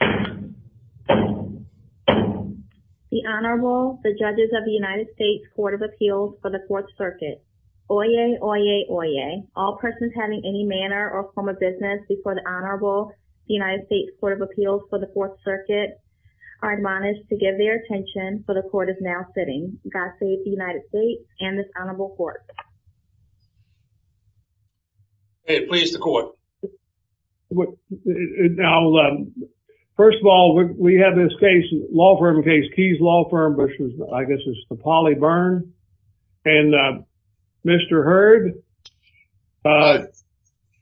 The Honorable, the Judges of the United States Court of Appeals for the 4th Circuit. Oyez, oyez, oyez. All persons having any manner or form of business before the Honorable, the United States Court of Appeals for the 4th Circuit are admonished to give their attention for the Court is now sitting. God save the United States and this Honorable Court. Okay, please, the Court. Now, first of all, we have this case, law firm case, Keyes Law Firm, which I guess is Napoli Bern and Mr. Hurd.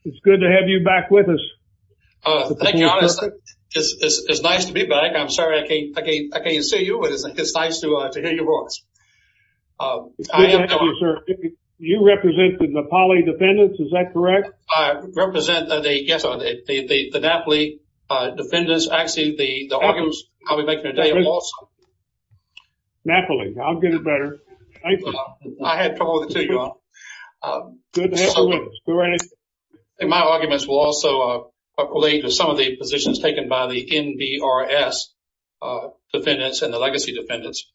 It's good to have you back with us. Thank you. It's nice to be back. I'm sorry I can't see you, but it's nice to hear you. Good to have you, sir. You represent the Napoli defendants, is that correct? I represent, yes, the Napoli defendants. Actually, the arguments we're making today are awesome. Napoli, I'll get it better. I had trouble with it, too, you know. My arguments will also relate to some of the positions taken by the NBRS defendants and the legacy defendants.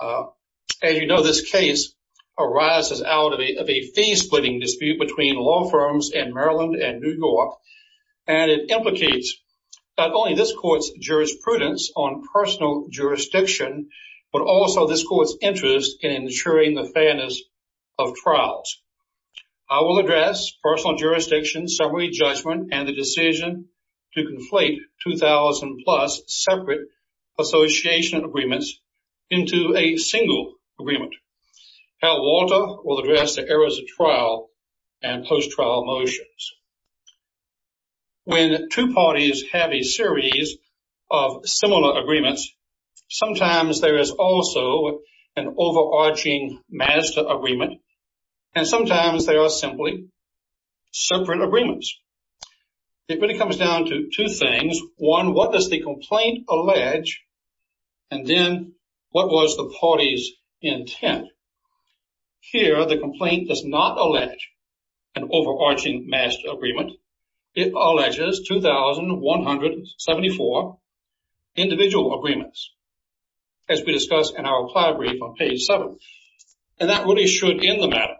As you know, this case arises out of a fee-splitting dispute between law firms in Maryland and New York, and it implicates not only this Court's jurisprudence on personal jurisdiction, but also this Court's interest in ensuring the fairness of trials. I will address personal jurisdiction, summary judgment, and the decision to conflate 2,000-plus separate association agreements into a single agreement. Hal Walter will address the errors of trial and post-trial motions. When two parties have a series of similar agreements, sometimes there is also an overarching master agreement, and sometimes there are simply separate agreements. It really comes down to two things. One, what does the complaint allege, and then what was the party's intent? Here, the complaint does not allege an overarching master agreement. It alleges 2,174 individual agreements, as we discussed in our reply brief on page 7, and that really should end the matter.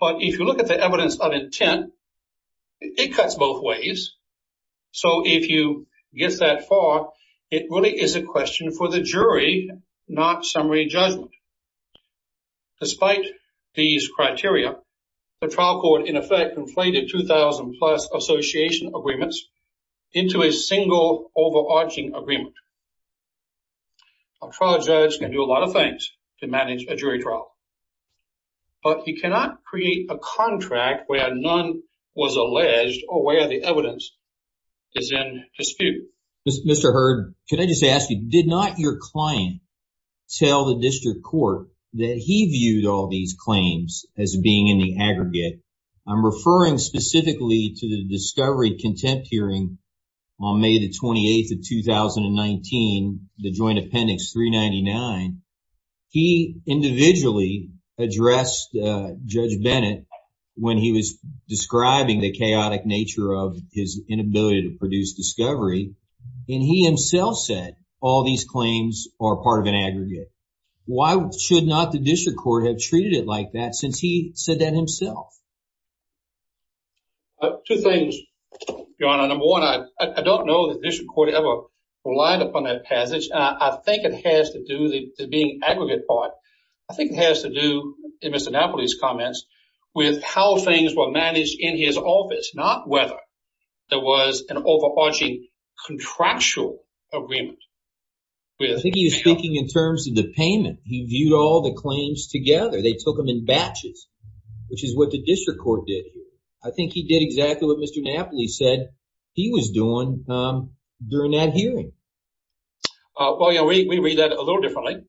But if you look at the evidence of intent, it cuts both ways. So if you get that far, it really is a question for the jury, not summary judgment. Despite these criteria, the trial court in effect conflated 2,000-plus association agreements into a single overarching agreement. A trial judge can do a lot of things to manage a jury trial, but he cannot create a contract where none was alleged or where the evidence is in dispute. Mr. Hurd, could I just ask you, did not your client tell the district court that he viewed all these claims as being in the aggregate? I'm referring specifically to the discovery contempt hearing on May the 28th of 2019, the joint appendix 399. He individually addressed Judge Bennett when he was describing the chaotic nature of his inability to produce discovery, and he himself said all these claims are part of an aggregate. Why should not the district like that since he said that himself? Two things, Your Honor. Number one, I don't know that the district court ever relied upon that passage. I think it has to do with the being aggregate part. I think it has to do, in Mr. Napoli's comments, with how things were managed in his office, not whether there was an overarching contractual agreement. I think he's speaking in terms of the payment. He viewed all the claims together. They took them in batches, which is what the district court did. I think he did exactly what Mr. Napoli said he was doing during that hearing. Well, yeah, we read that a little differently.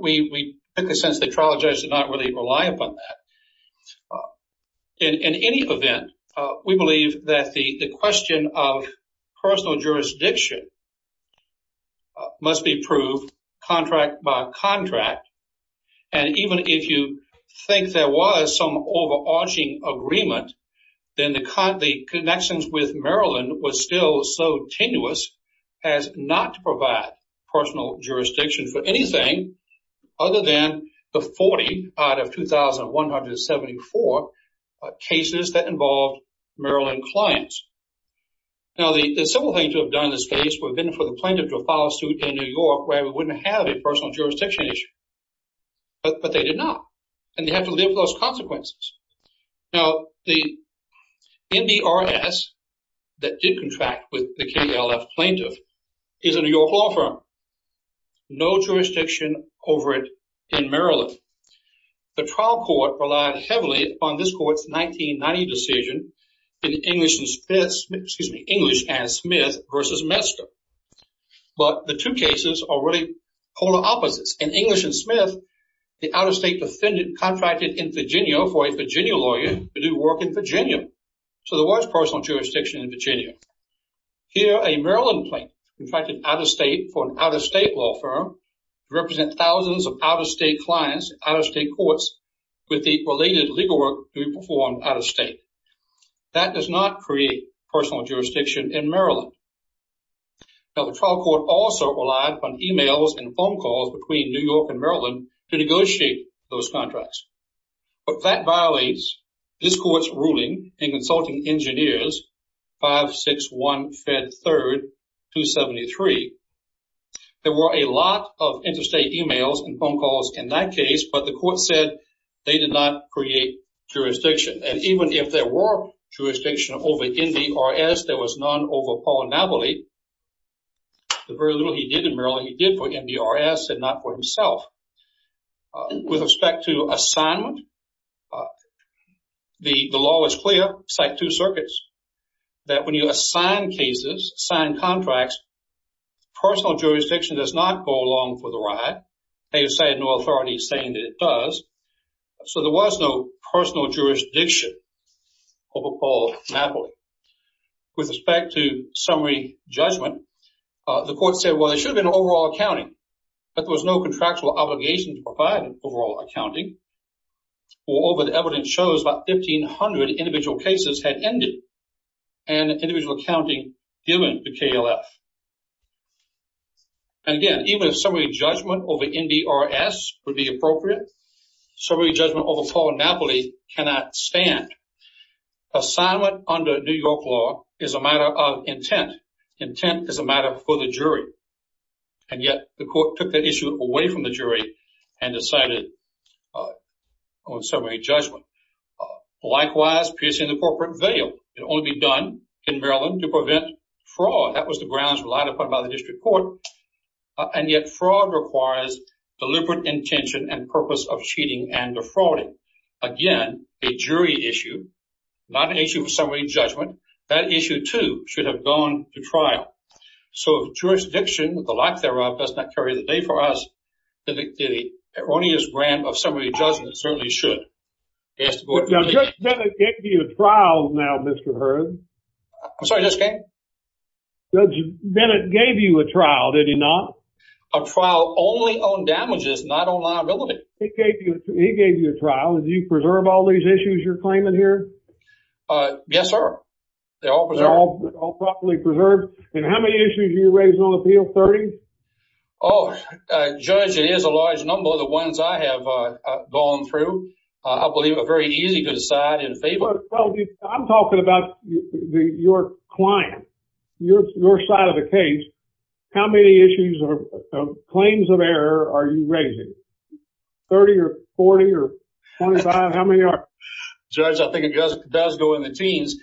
We took the sense that the trial judge did not really rely upon that. In any event, we believe that the question of personal jurisdiction must be proved contract by contract, and even if you think there was some overarching agreement, then the connections with Maryland were still so tenuous as not to provide personal jurisdiction for anything other than the 40 out of 2,174 cases that involved Maryland clients. Now, the simple thing to have done in this case would have been for the plaintiff to file a suit in New York where they wouldn't have a personal jurisdiction issue, but they did not, and they had to live with those consequences. Now, the NDRS that did contract with the KDLF plaintiff is a New York law firm. No jurisdiction over it in Maryland. The trial court relied heavily upon this court's 1990 decision in English and Smith versus Metzger, but the two cases are really polar opposites. In English and Smith, the out-of-state defendant contracted in Virginia for a Virginia lawyer to do work in Virginia, so there was personal jurisdiction in Virginia. Here, a Maryland plaintiff contracted for an out-of-state law firm to represent thousands of out-of-state clients, out-of-state courts, with the related legal work to perform out-of-state. That does not create personal jurisdiction in Maryland. Now, the trial court also relied upon emails and phone calls between New York and Maryland to negotiate those contracts, but that violates this court's ruling in Consulting Engineers 56153-273. There were a lot of interstate emails and phone calls in that case, but the court said they did not create jurisdiction, and even if there were jurisdiction over NDRS, there was none over Paul Navoli. The very little he did in Maryland, he did for NDRS and not for himself. With respect to assignment, the law is clear. It's like two circuits, that when you assign cases, sign contracts, personal jurisdiction does not go along for the ride, and you assign an authority saying that it does, so there was no personal jurisdiction over Paul Navoli. With respect to summary judgment, the court said, well, there should have been overall accounting, but there was no contractual obligation to provide overall accounting. Well, all the evidence shows about 1,500 individual cases had ended, and individual accounting dealing to KLF. And again, even if summary judgment over NDRS would be appropriate, summary judgment over Paul Navoli cannot stand. Assignment under New York law is a matter of intent. Intent is a matter for the jury, and yet the court took that issue away from the jury and decided on summary judgment. Likewise, piercing the corporate veil can only be done in Maryland to prevent fraud. That was the grounds relied upon by the district court, and yet fraud requires deliberate intention and purpose of cheating and defrauding. Again, a jury issue, not an issue of summary judgment, that issue too should have gone to trial. So jurisdiction, the lack thereof, does not carry the weight for us, but the erroneous brand of summary judgment certainly should. Judge Bennett gave you a trial now, Mr. Hearn. I'm sorry, yes, Ken? Judge Bennett gave you a trial, did he not? A trial only on damages, not on law and relevance. He gave you a trial. Did you preserve all these issues you're claiming here? Yes, sir. They're all preserved? They're all properly preserved. And how many issues are you raising on the field, 30? Oh, Judge, it is a large number. The ones I have gone through, I believe, are very easy to decide in favor. Well, I'm talking about your client, your side of the case. How many issues or claims of error are you raising, 30 or 40 or 105? How many are there? Judge, I think it does go in the teens.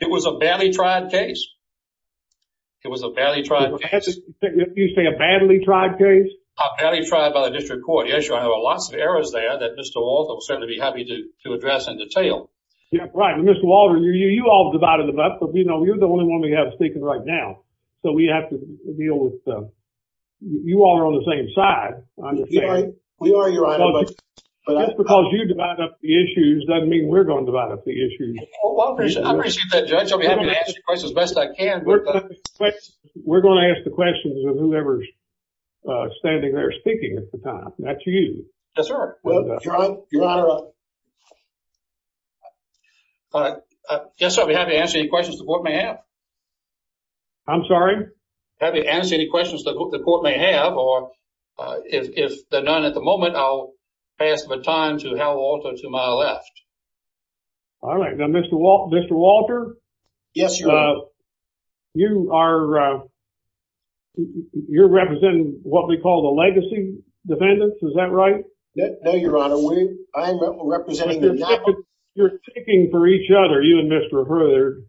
It was a badly tried case. It was a badly tried case. You say a badly tried case? A badly tried by the district court. Yes, sir. There were lots of errors there that Mr. Walters had to be happy to address in detail. Yes, right. Mr. Walters, you're the only one we have sticking right now, so we have to deal with... You all are on the same side, I understand. Yes, we are, Your Honor. Just because you divide up the issues doesn't mean we're going to divide up the issues. I appreciate that, Judge. I'll be happy to answer your questions as best I can. We're going to ask the questions of whomever's standing there speaking at the time. That's you. Yes, sir. Judge, I'll be happy to answer any questions the board may have. I'm sorry? I'll be happy to answer any questions the court may have, or if there are none at the moment, I'll pass the time to Al Walter to my left. All right. Now, Mr. Walter? Yes, Your Honor. You are... You're representing what we call the legacy defendants, is that right? Yes, Your Honor. I am representing the... You're ticking for each other, you and Mr. Herder,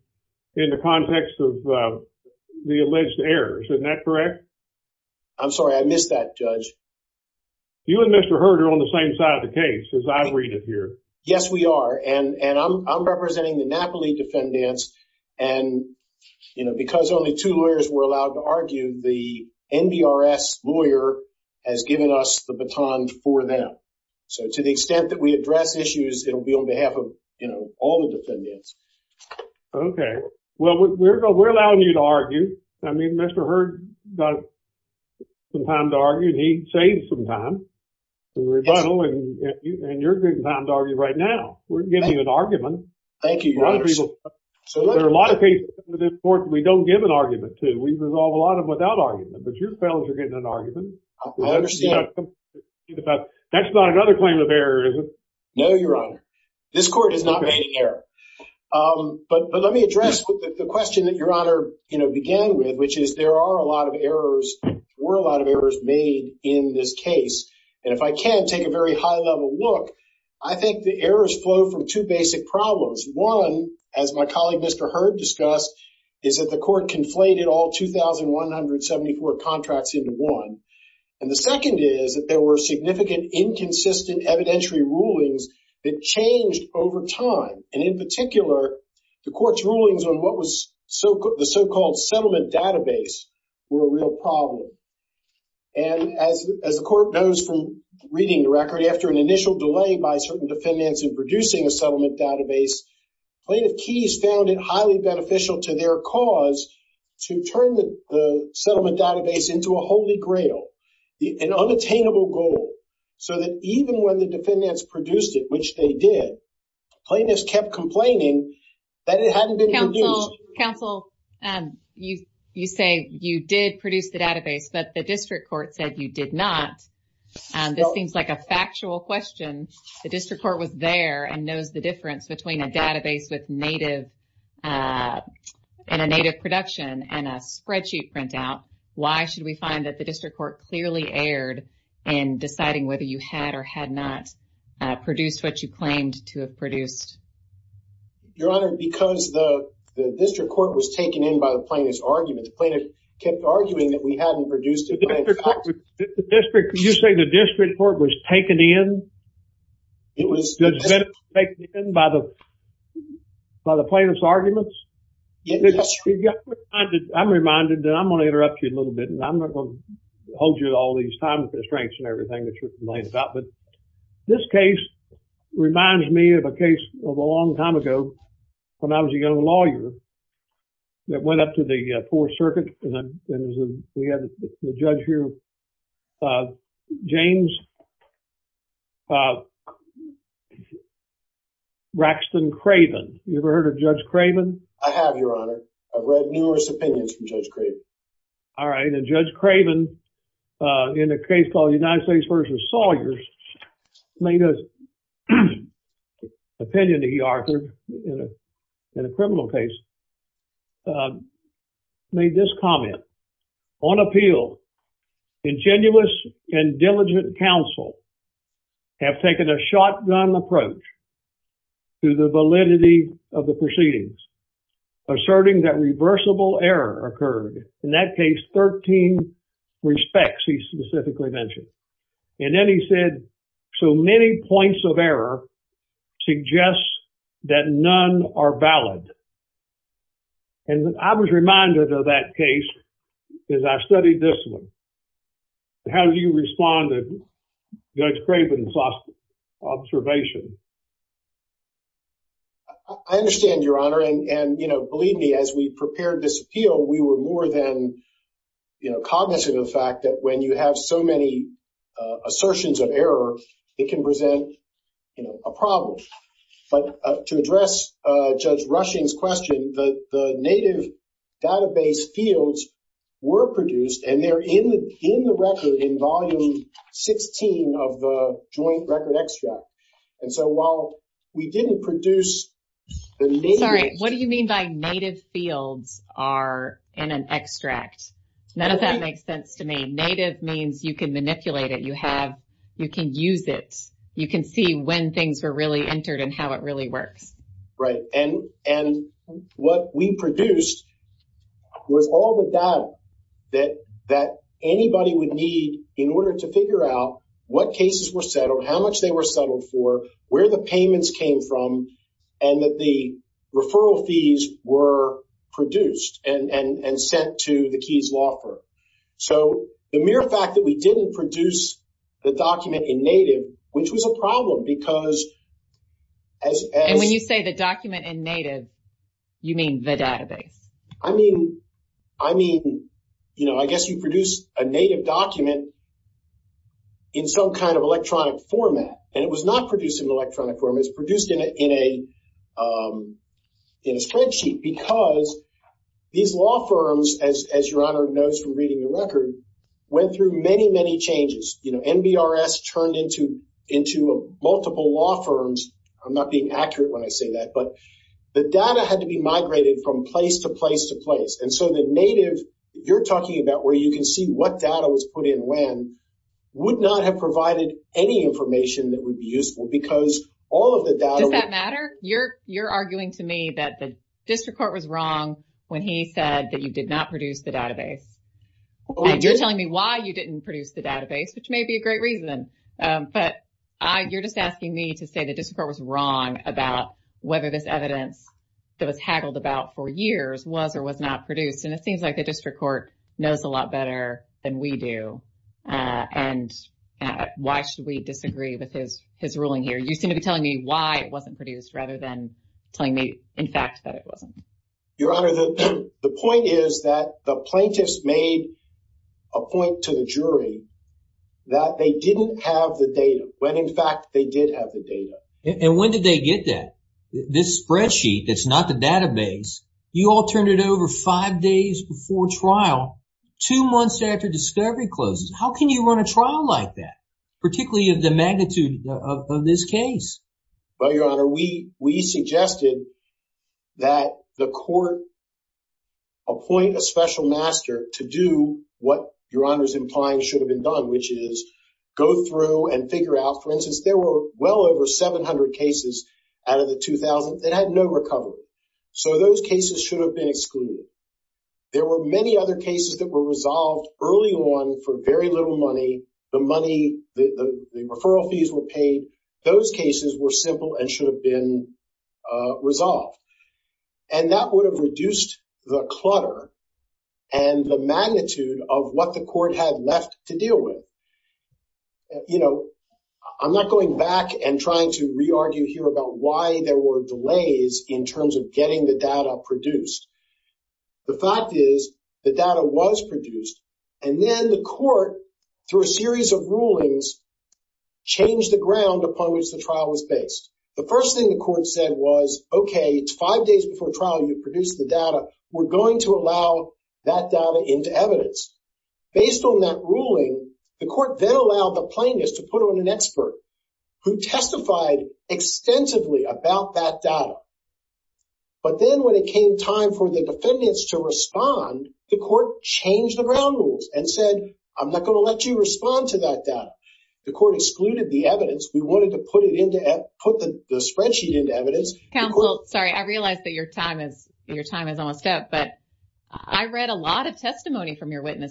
in the context of the alleged errors. Isn't that correct? I'm sorry. I missed that, Judge. You and Mr. Herder are on the same side of the case, as I read it here. Yes, we are. I'm representing the Napoli defendants. Because only two lawyers were allowed to argue, the NDRS lawyer has given us the baton for them. To the extent that we address issues, it will be on behalf of all the defendants. Okay. Well, we're allowing you to argue. I mean, Mr. Herder got some time to argue, and he saved some time, and you're getting time to argue right now. We're giving an argument. Thank you, Your Honor. There are a lot of cases in this court that we don't give an argument to. We resolve a lot of them without argument, but your fellows are getting an argument. That's not another claim of error, is it? No, Your Honor. This court has not made an error. But let me address the question that Your Honor began with, which is there were a lot of errors made in this case. If I can take a very high-level look, I think the errors flow from two basic problems. One, as my colleague Mr. Herd discussed, is that the court conflated all 2,174 contracts into one. The second is that there were significant inconsistent evidentiary rulings that changed over time. In particular, the court's rulings on what was the so-called settlement database were a real problem. As the court knows from reading the record, after an initial delay by certain defendants in producing a settlement database, plaintiff keys found it highly beneficial to their cause to turn the settlement database into a holy grail, an unattainable goal, so that even when the defendants produced it, which they did, plaintiffs kept complaining that it hadn't been produced. Counsel, you say you did produce the database, but the district court said you did not. This seems like a factual question. The district court was there and knows the difference between a database that's native and a native production and a spreadsheet printout. Why should we find that the district court clearly erred in deciding whether you had or had not produced what you claimed to have produced? Your Honor, because the district court was taken in by the plaintiff's argument, the plaintiff kept arguing that we hadn't produced it. You say the district court was taken in by the plaintiff's arguments? I'm reminded that I'm going to interrupt you a little bit, and I'm not going to hold you to all these time constraints and everything that you're pointing out, but this case reminds me of a case of a long time ago when I was a young lawyer that went up to the Fourth Circuit, and we had a judge here, James Braxton Craven. You ever heard of Judge Craven? I have, Your Honor. I've read numerous opinions from Judge Craven. All right, and Judge Craven, in a case called United States v. Sawyers, made an opinion that he offered in a criminal case, made this comment. On appeal, ingenuous and diligent counsel have taken a shotgun approach to the validity of the proceedings, asserting that reversible error occurred. In that case, 13 respects he specifically mentioned, and then he said, so many points of error suggest that none are valid, and I was reminded of that case as I studied this one. How do you respond to Judge Craven's observation? I understand, Your Honor, and believe me, as we prepared this appeal, we were more than cognizant of the fact that when you have so many assertions of error, it can present a problem. But to address Judge Rushing's question, the native database fields were produced, and they're in the record in Volume 16 of the Joint Record Extract. And so while we didn't produce the native... Sorry, what do you mean by native fields are in an extract? None of that makes sense to me. Native means you can manipulate it. You can use it. You can see when things are really entered and how it really works. Right, and what we produced were all the data that anybody would need in order to figure out what cases were settled, how much they were settled for, where the payments came from, and that the referral fees were produced and sent to the Keyes Law Firm. So the mere fact that we didn't produce the document in native, which was a problem because... And when you say the document in native, you mean the database. I mean, I mean, you know, I format. And it was not produced in an electronic format. It was produced in a spreadsheet because these law firms, as Your Honor knows from reading the record, went through many, many changes. You know, NBRS turned into multiple law firms. I'm not being accurate when I say that, but the data had to be migrated from place to place to place. And so the native you're talking about, where you can see what data was put in when, would not have provided any information that would be useful because all of the data... Does that matter? You're arguing to me that the district court was wrong when he said that you did not produce the database. You're telling me why you didn't produce the database, which may be a great reason. But you're just asking me to say the district court was wrong about whether this evidence that was haggled about for years was or was not produced. And it seems like the district court knows a lot better than we do. And why should we disagree with his ruling here? You seem to be telling me why it wasn't produced rather than telling me in fact that it wasn't. Your Honor, the point is that the plaintiffs made a point to the jury that they didn't have the data, when in fact they did have the data. And when did they get that? This spreadsheet that's not the database, you all it over five days before trial, two months after discovery closes. How can you run a trial like that, particularly of the magnitude of this case? Well, Your Honor, we suggested that the court appoint a special master to do what Your Honor is implying should have been done, which is go through and figure out, for instance, there were well over 700 cases out of the 2000 that had no recovery. So those cases should have been excluded. There were many other cases that were resolved early on for very little money. The money, the referral fees were paid. Those cases were simple and should have been resolved. And that would have reduced the clutter and the magnitude of what the court had left to deal with. You know, I'm not going back and trying to re-argue here why there were delays in terms of getting the data produced. The fact is the data was produced and then the court, through a series of rulings, changed the ground upon which the trial was based. The first thing the court said was, okay, it's five days before trial and you've produced the data. We're going to allow that data into evidence. Based on that ruling, the court then allowed the plaintiffs to put on an expert who testified extensively about that data. But then when it came time for the defendants to respond, the court changed the ground rules and said, I'm not going to let you respond to that data. The court excluded the evidence. We wanted to put the spreadsheet into evidence. Counsel, sorry, I realize that your time is on step, but I read a lot of testimony from your claiming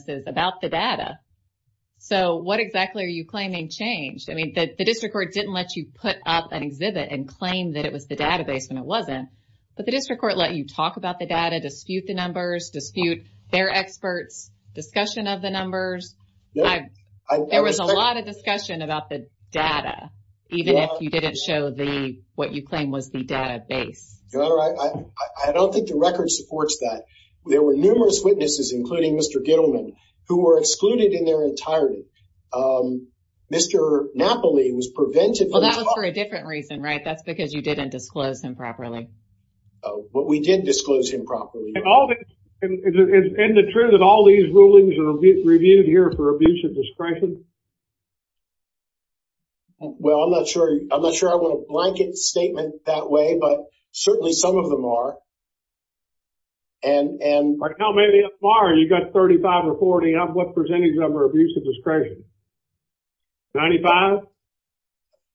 changed. I mean, the district court didn't let you put up an exhibit and claim that it was the database and it wasn't, but the district court let you talk about the data, dispute the numbers, dispute their experts, discussion of the numbers. There was a lot of discussion about the data, even if you didn't show the, what you claim was the database. Your Honor, I don't think the record supports that. There were numerous witnesses, including Mr. Gilman, who were excluded in their entirety. Mr. Napoli was prevented- Well, that was for a different reason, right? That's because you didn't disclose him properly. But we did disclose him properly. And the truth is all these rulings are reviewed here for abuse of discretion? Well, I'm not sure I want to blanket statement that way, but certainly some of them are. And- How many of them are? You've got 35 or 40. How much percentage of them are abuse of discretion? 95?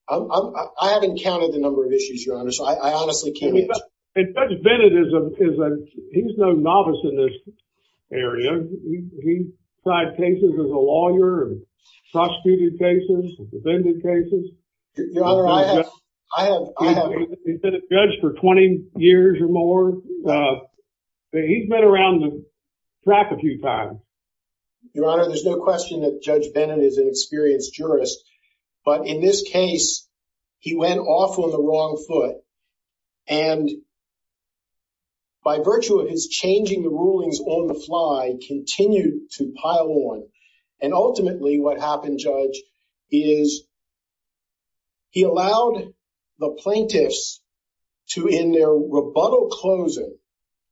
I haven't counted the number of issues, Your Honor, so I honestly can't- And Judge Bennett is a, he's no novice in this area. He's tried cases as a lawyer, prosecuted cases, defended cases. He's been a judge for 20 years or more. He's been around the track a few times. Your Honor, there's no question that Judge Bennett is an experienced jurist. But in this case, he went off on the wrong foot. And by virtue of his changing the rulings on the And ultimately what happened, Judge, is he allowed the plaintiffs to, in their rebuttal closing,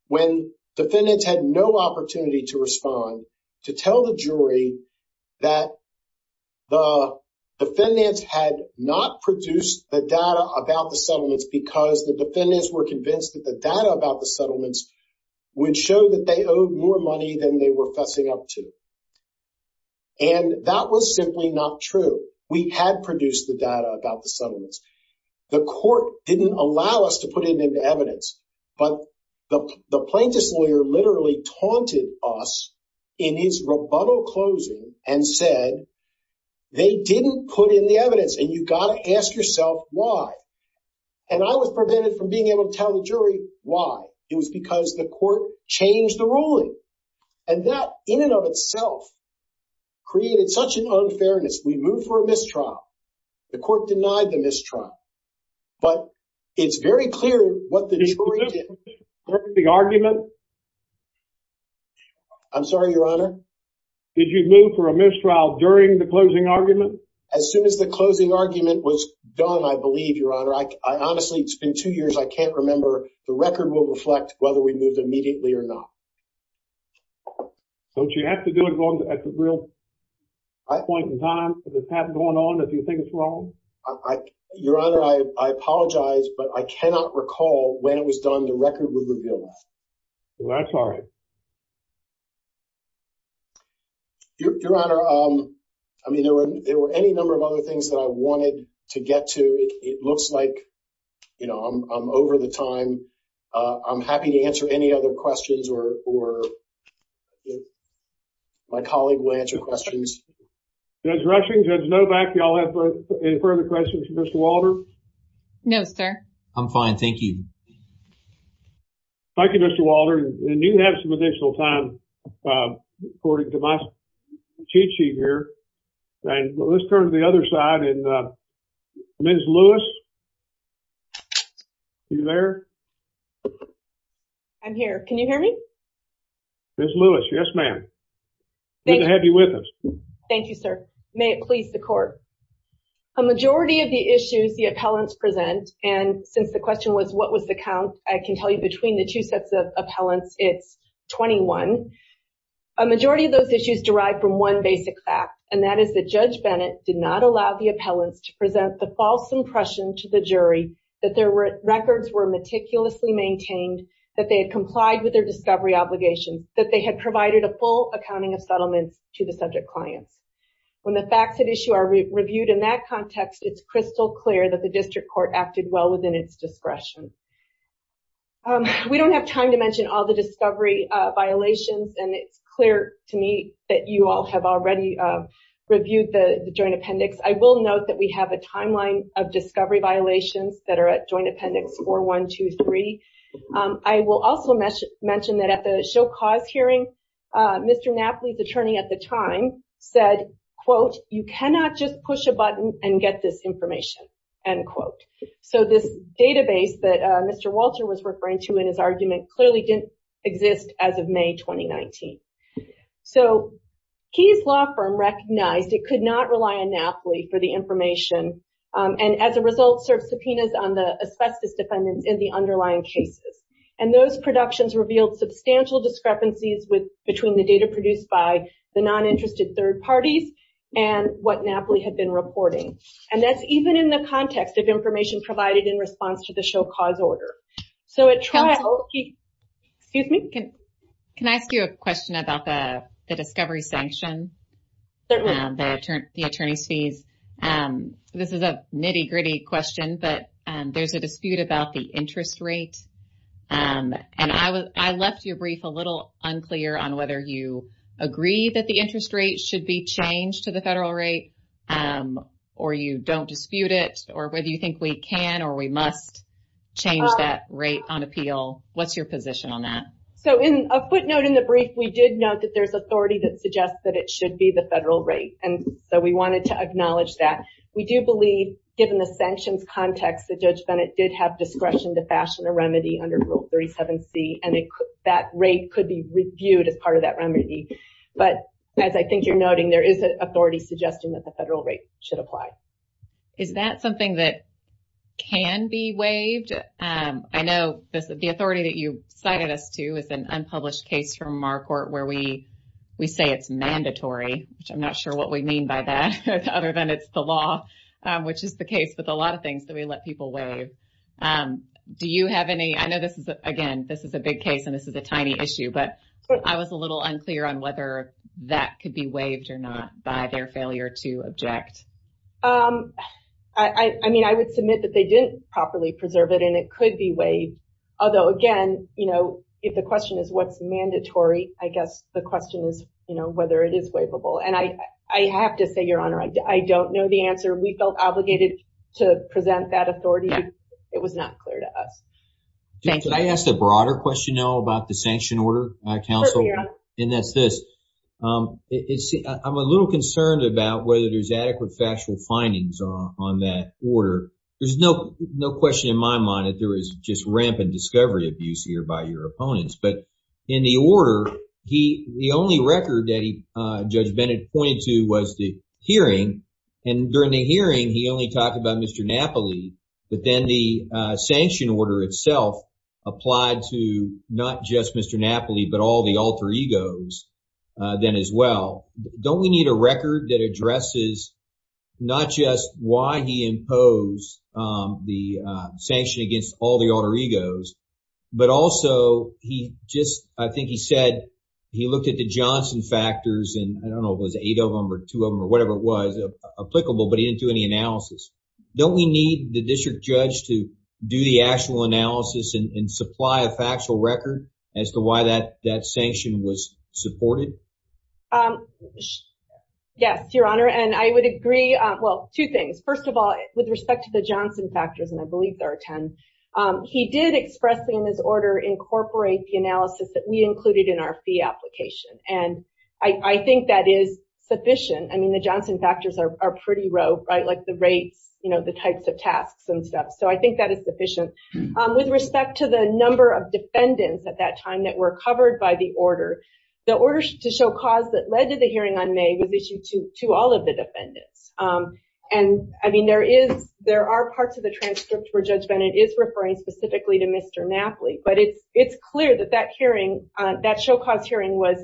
when defendants had no opportunity to respond, to tell the jury that the defendants had not produced the data about the settlements because the defendants were convinced that the data about And that was simply not true. We had produced the data about the settlements. The court didn't allow us to put it into evidence, but the plaintiff's lawyer literally taunted us in his rebuttal closing and said, they didn't put in the evidence, and you've got to ask yourself why. And I was prevented from being able to tell the jury why. It was because the court changed the ruling. And that, in and of itself, created such an unfairness. We moved for a mistrial. The court denied the mistrial. But it's very clear what the jury did. Did you move for a mistrial during the closing argument? I'm sorry, Your Honor? Did you move for a mistrial during the closing argument? As soon as the closing argument was done, I believe, Your Honor. Honestly, it's been two or three weeks. I don't know if it was done immediately or not. Don't you have to do it at the real high point in time, because it's not going on, if you think it's wrong? Your Honor, I apologize, but I cannot recall when it was done, the record would reveal that. I'm sorry. Your Honor, I mean, there were any number of other things that I wanted to get to. It looks like, you know, I'm over the time. I'm happy to answer any other questions or if my colleague will answer questions. Judge Rushing, Judge Novak, do y'all have any further questions for Mr. Walter? No, sir. I'm fine. Thank you. Thank you, Mr. Walter. And you can have some additional time, according to my cheat sheet here. And let's turn to the other side, and Ms. Lewis, are you there? I'm here. Can you hear me? Ms. Lewis, yes, ma'am. Good to have you with us. Thank you, sir. May it please the court. A majority of the issues the appellants present, and since the question was what was the count, I can tell you between the two sets of appellants, it's 21. A majority of those issues derive from one basic fact, and that is that Judge Bennett did not allow the appellant to present the false impression to the jury that their records were meticulously maintained, that they had complied with their discovery obligations, that they had provided a full accounting of settlement to the subject client. When the facts at issue are reviewed in that context, it's crystal clear that the district court acted well within its discovery violations, and it's clear to me that you all have already reviewed the joint appendix. I will note that we have a timeline of discovery violations that are at joint appendix 4123. I will also mention that at the Shill Clause hearing, Mr. Napoli's attorney at the time said, quote, you cannot just push a button and get this information, end quote. So this database that Mr. Walter was referring to in his argument clearly didn't exist as of May 2019. So Keyes Law Firm recognized it could not rely on Napoli for the information, and as a result, served subpoenas on the asbestos defendants in the underlying cases, and those productions revealed substantial discrepancies between the data produced by the non-interested third parties and what Napoli had been reporting, and that's even in the context of information provided in the Shill Clause order. So at trial, excuse me, can I ask you a question about the discovery sanctions, the attorneys fees? This is a nitty-gritty question, but there's a dispute about the interest rate, and I left your brief a little unclear on whether you agree that the interest rate should be changed to the federal rate, or you don't dispute it, or whether you think we can or we must change that rate on appeal. What's your position on that? So in a quick note in the brief, we did note that there's authority that suggests that it should be the federal rate, and so we wanted to acknowledge that. We do believe, given the sanctions context, the Judge Senate did have discretion to fashion a remedy under Rule 37C, and that rate could be reviewed as part of that remedy, but as I think you're noting, there is an authority suggesting that federal rates should apply. Is that something that can be waived? I know the authority that you cited us to is an unpublished case from our court where we say it's mandatory, which I'm not sure what we mean by that, other than it's the law, which is the case with a lot of things that we let people waive. Do you have any, I know this is, again, this is a big case and this is a tiny issue, but I was a little unclear on whether that could be waived or not by their failure to object. I mean, I would submit that they did properly preserve it, and it could be waived, although again, you know, if the question is what's mandatory, I guess the question is, you know, whether it is waivable, and I have to say, Your Honor, I don't know the answer. We felt obligated to present that authority. It was not clear to us. Did I ask a broader question now about the sanction order, counsel? And that's this. I'm a little concerned about whether there's adequate factual findings on that order. There's no question in my mind that there is just rampant discovery abuse here by your opponents, but in the order, the only record that Judge Bennett pointed to was the hearing, and during the hearing, he only talked about Mr. Napoli, but then the sanction order itself applied to not just Mr. Napoli, but all the alter egos then as well. Don't we need a record that addresses not just why he imposed the sanction against all the alter egos, but also he just, I think he said he looked at the Johnson factors, and I don't know if it was eight of them or two of them or whatever it was, applicable, but he didn't do any analysis. Don't we need the district judge to do the actual analysis and supply a factual record as to why that sanction was supported? Yes, Your Honor, and I would agree, well, two things. First of all, with respect to the Johnson factors, and I believe there are 10, he did expressly in his order incorporate the analysis that we included in our fee application, and I think that is sufficient. I mean, the Johnson factors are pretty rough, like the rate, the types of tasks and stuff, so I think that is sufficient. With respect to the number of defendants at that time that were covered by the order, the order to show cause that led to the hearing on May was issued to all of the defendants, and I mean, there are parts of the transcripts where Judge Bennett is referring specifically to Mr. Napoli, but it's clear that that hearing, that show cause hearing was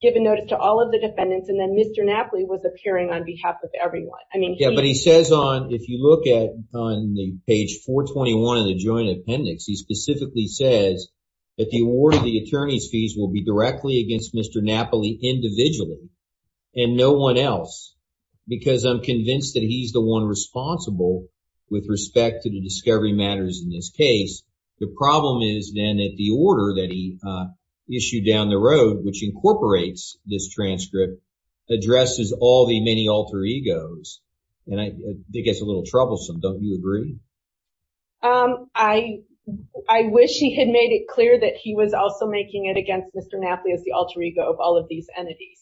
given notice to all of the defendants, and then Mr. Napoli was appearing on behalf of everyone. Yeah, but he says on, if you look at on page 421 of the joint appendix, he specifically says that the award of the attorney's fees will be directly against Mr. Napoli individually and no one else, because I'm convinced that he's the one responsible with respect to the discovery matters in this case. The problem is then that the order that he issued down the road, which incorporates this transcript, addresses all the many alter egos, and I think it's a little troublesome. Don't you agree? I wish he had made it clear that he was also making it against Mr. Napoli as the alter ego of all of these entities.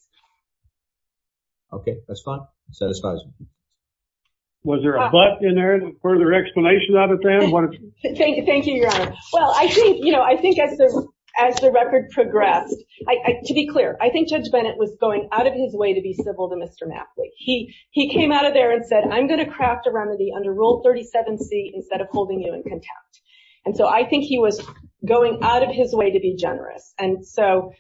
Okay, that's fine. Satisfied. Was there a but in there, further explanation out of that? Thank you, your honor. Well, I think as the record progressed, to be clear, I think Judge Bennett was going out of his way to be civil to Mr. Napoli. He came out of there and said, I'm going to craft a remedy under Rule 37C instead of holding you in contempt, and so I think he was going out of his way to be generous, and so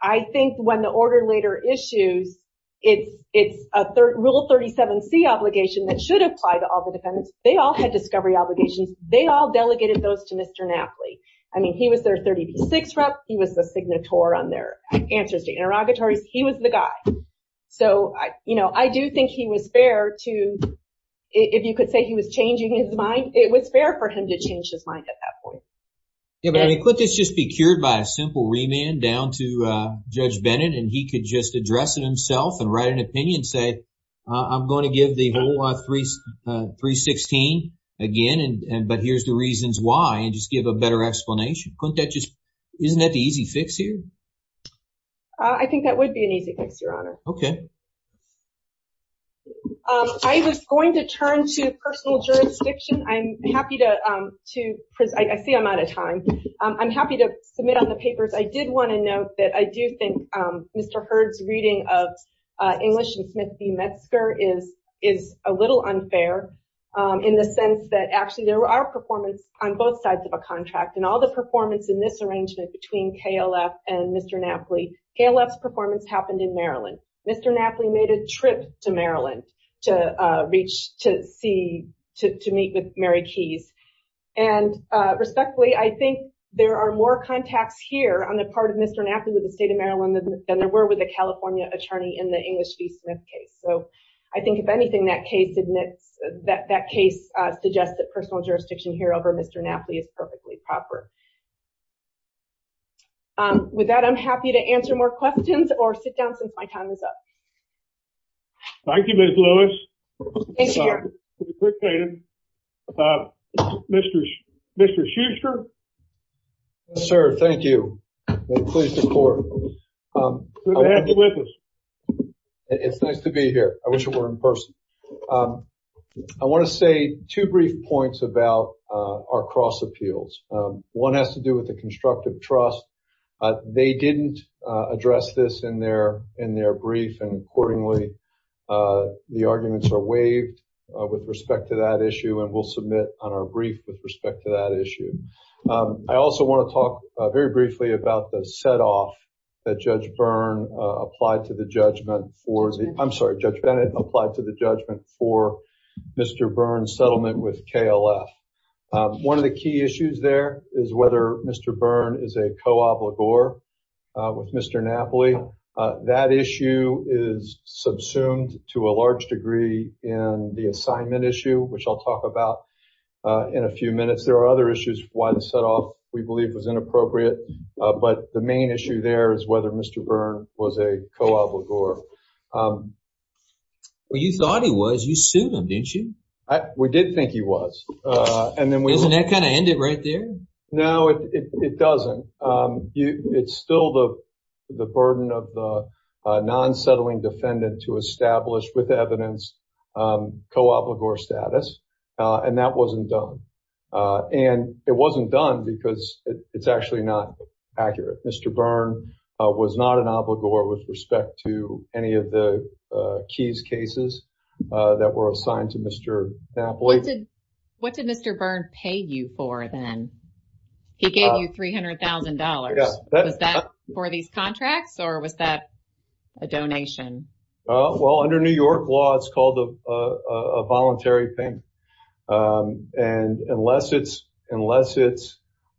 I think when the order later issues, it's a Rule 37C obligation that should apply to all the defendants. They all had discovery obligations. They all delegated those to Mr. Napoli. I mean, he was their 36th rep. He was the signatory on their answers to interrogatories. He was the guy. So, you know, I do think he was fair to, if you could say he was changing his mind, it was fair for him to change his mind at that point. Yeah, but I mean, couldn't this just be cured by a simple remand down to Judge Bennett, and he could just address it himself and write an opinion and say, I'm going to give the whole 316 again, but here's the reasons why, and just give a better explanation. Couldn't that just, isn't that the easy fix here? I think that would be an easy fix, your honor. Okay. I was going to turn to personal jurisdiction. I'm happy to, because I see I'm out of time. I'm happy to submit on the papers. I did want to note that I do think Mr. Hurd's reading of English and Smith v. Metzger is a little unfair in the sense that actually there were our performance on both sides of a contract and all the performance in this arrangement between KLF and Mr. Napoli. KLF's performance happened in Maryland. Mr. Napoli made a trip to Maryland to meet with Mary Keyes, and respectfully, I think there are more contacts here on the part of Mr. Napoli with the state of Maryland than there were with a California attorney in the English v. Smith case. So I think if anything, that case suggests that personal jurisdiction here over Mr. Napoli is perfectly proper. With that, I'm happy to answer more questions or sit down. Thank you, Ms. Lewis. Mr. Schuster. Yes, sir. Thank you. I'm pleased to report. It's nice to be here. I wish it were in person. I want to say two brief points about our cross appeals. One has to do with the constructive trust. They didn't address this in their brief and accordingly, the arguments are waived with respect to that issue, and we'll submit on our brief with respect to that issue. I also want to talk very briefly about the set off that Judge Byrne applied to the judgment for, I'm sorry, Judge Bennett applied to the judgment for Mr. Byrne's settlement with KLF. One of the key issues there is whether Mr. Byrne is a co-obligor with Mr. Napoli. That issue is subsumed to a large degree in the assignment issue, which I'll talk about in a few minutes. There are other issues why the set off we believe was inappropriate, but the main issue there is whether Mr. Byrne was a co-obligor. Well, you thought he was. You sued him, didn't you? We did think he was. And then we... Didn't that kind of end it right there? No, it doesn't. It's still the burden of the non-settling defendant to establish with evidence co-obligor status, and that wasn't done. And it wasn't done because it's actually not accurate. Mr. Byrne was not an obligor with respect to any of the keys cases that were assigned to Mr. Napoli. What did Mr. Byrne pay you for then? He gave you $300,000. Was that for these contracts, or was that a donation? Well, under New York law, it's called a voluntary thing. And unless it's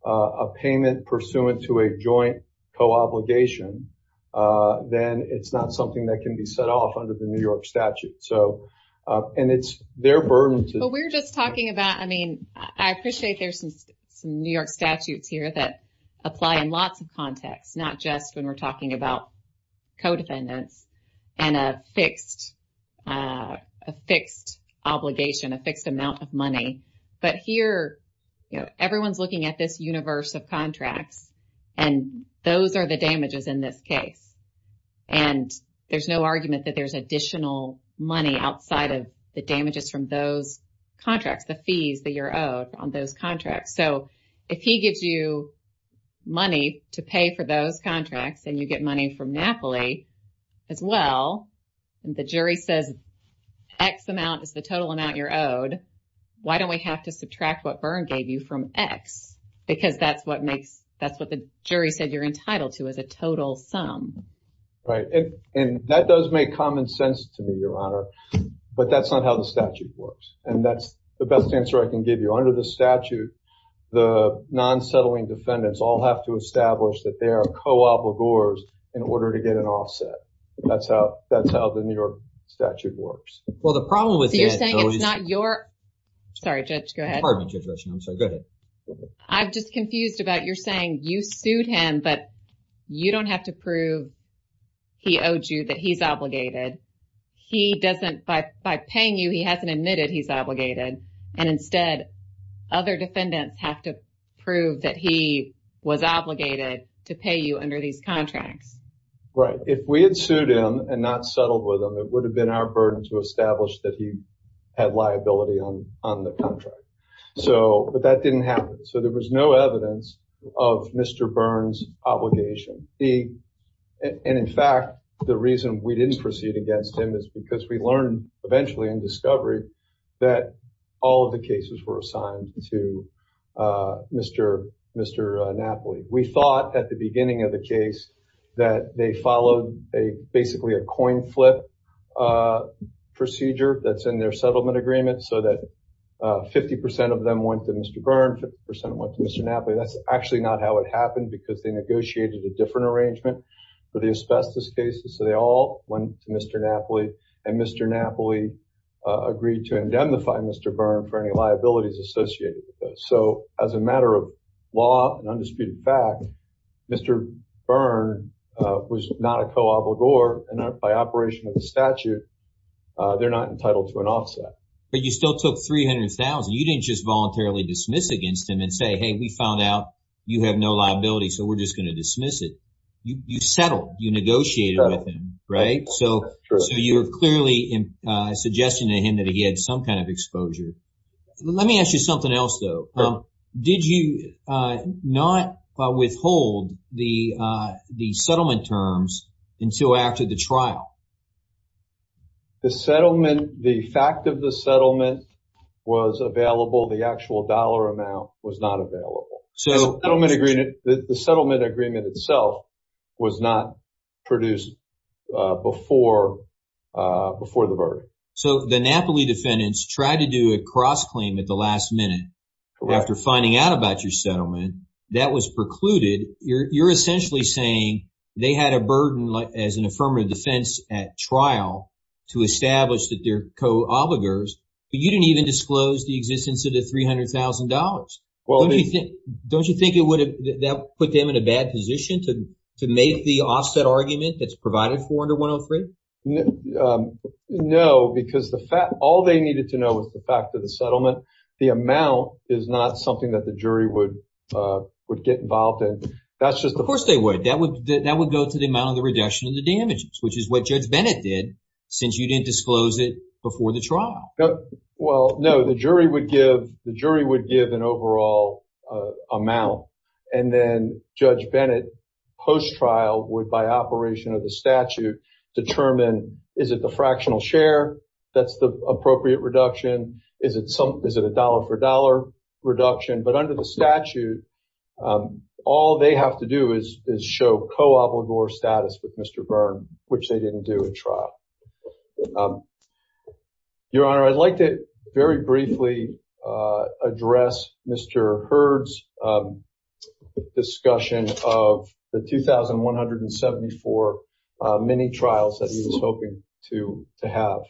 a payment pursuant to a joint co-obligation, then it's not something that can be set off under the New York statute. And it's their burden to... We're just talking about, I mean, I appreciate there's some New York statutes here that apply in lots of contexts, not just when we're talking about co-defendants and a fixed obligation, a fixed amount of money. But here, everyone's looking at this universe of contracts, and those are the damages in this case. And there's no argument that there's additional money outside of the damages from those contracts, the fees that you're owed on those contracts. So, if he gives you money to pay for those contracts and you get money from Napoli as well, and the jury says X amount is the total amount you're owed, why don't we have to subtract what Byrne gave you from X? Because that's what the jury said you're entitled to, is a total sum. Right. And that does make common sense to me, Your Honor, but that's not how the statute works. And that's the best answer I can give you. Under the statute, the non-settling defendants all have to establish that they are co-obligors in order to get an offset. That's how the New York statute works. Well, the problem with that... So, you're saying it's not your... Sorry, Judge, go ahead. Go ahead. I'm just confused about you're saying you sued him, but you don't have to prove he owed you that he's obligated. He doesn't, by paying you, he hasn't admitted he's obligated. And instead, other defendants have to prove that he was obligated to pay you under these contracts. Right. If we had sued him and not settled with him, it would have been our burden to establish that he had liability on the contract. But that didn't happen. So, there was no evidence of Mr. Byrne's obligation. And in fact, the reason we didn't proceed against him is because we learned eventually in discovery that all of the cases were assigned to Mr. Napoli. We thought at the beginning of the case that they followed basically a coin flip procedure that's in their settlement agreement so that 50% of them went to Mr. Byrne, 50% went to Mr. Napoli. That's actually not how it happened because they negotiated a different arrangement for the asbestos cases. So, they all went to Mr. Napoli and Mr. Napoli agreed to indemnify Mr. Byrne for any liabilities associated with it. So, as a matter of law and undisputed fact, Mr. Byrne was not a co-obligor and by operation of the statute, they're not entitled to an offset. But you still took $300,000. You didn't just voluntarily dismiss against him and say, hey, we found out you have no liability, so we're just going to dismiss it. You settled, you negotiated with him, right? So, you're clearly suggesting to him that he had some kind of Let me ask you something else, though. Did you not withhold the settlement terms until after the trial? The settlement, the fact of the settlement was available, the actual dollar amount was not available. So, the settlement agreement itself was not produced before the verdict. So, the Napoli defendants tried to do a cross-claim at the last minute after finding out about your settlement. That was precluded. You're essentially saying they had a burden as an affirmative defense at trial to establish that they're co-obligors, but you didn't even disclose the existence of the $300,000. Don't you think that would put them in a bad position to make the offset argument that's provided for under 103? No, because all they needed to know was the fact of the settlement. The amount is not something that the jury would get involved in. Of course they would. That would go to the amount of the reduction of the damages, which is what Judge Bennett did since you didn't disclose it before the trial. Well, no. The jury would give an overall amount, and then Judge Bennett, post-trial, would, by operation of the statute, determine is it the fractional share that's the appropriate reduction? Is it a dollar-for-dollar reduction? But under the statute, all they have to do is show co-obligor status with Mr. Byrne, which they didn't do at trial. Your Honor, I'd like to very briefly address Mr. Hurd's discussion of the 2,174 mini-trials that he was hoping to have.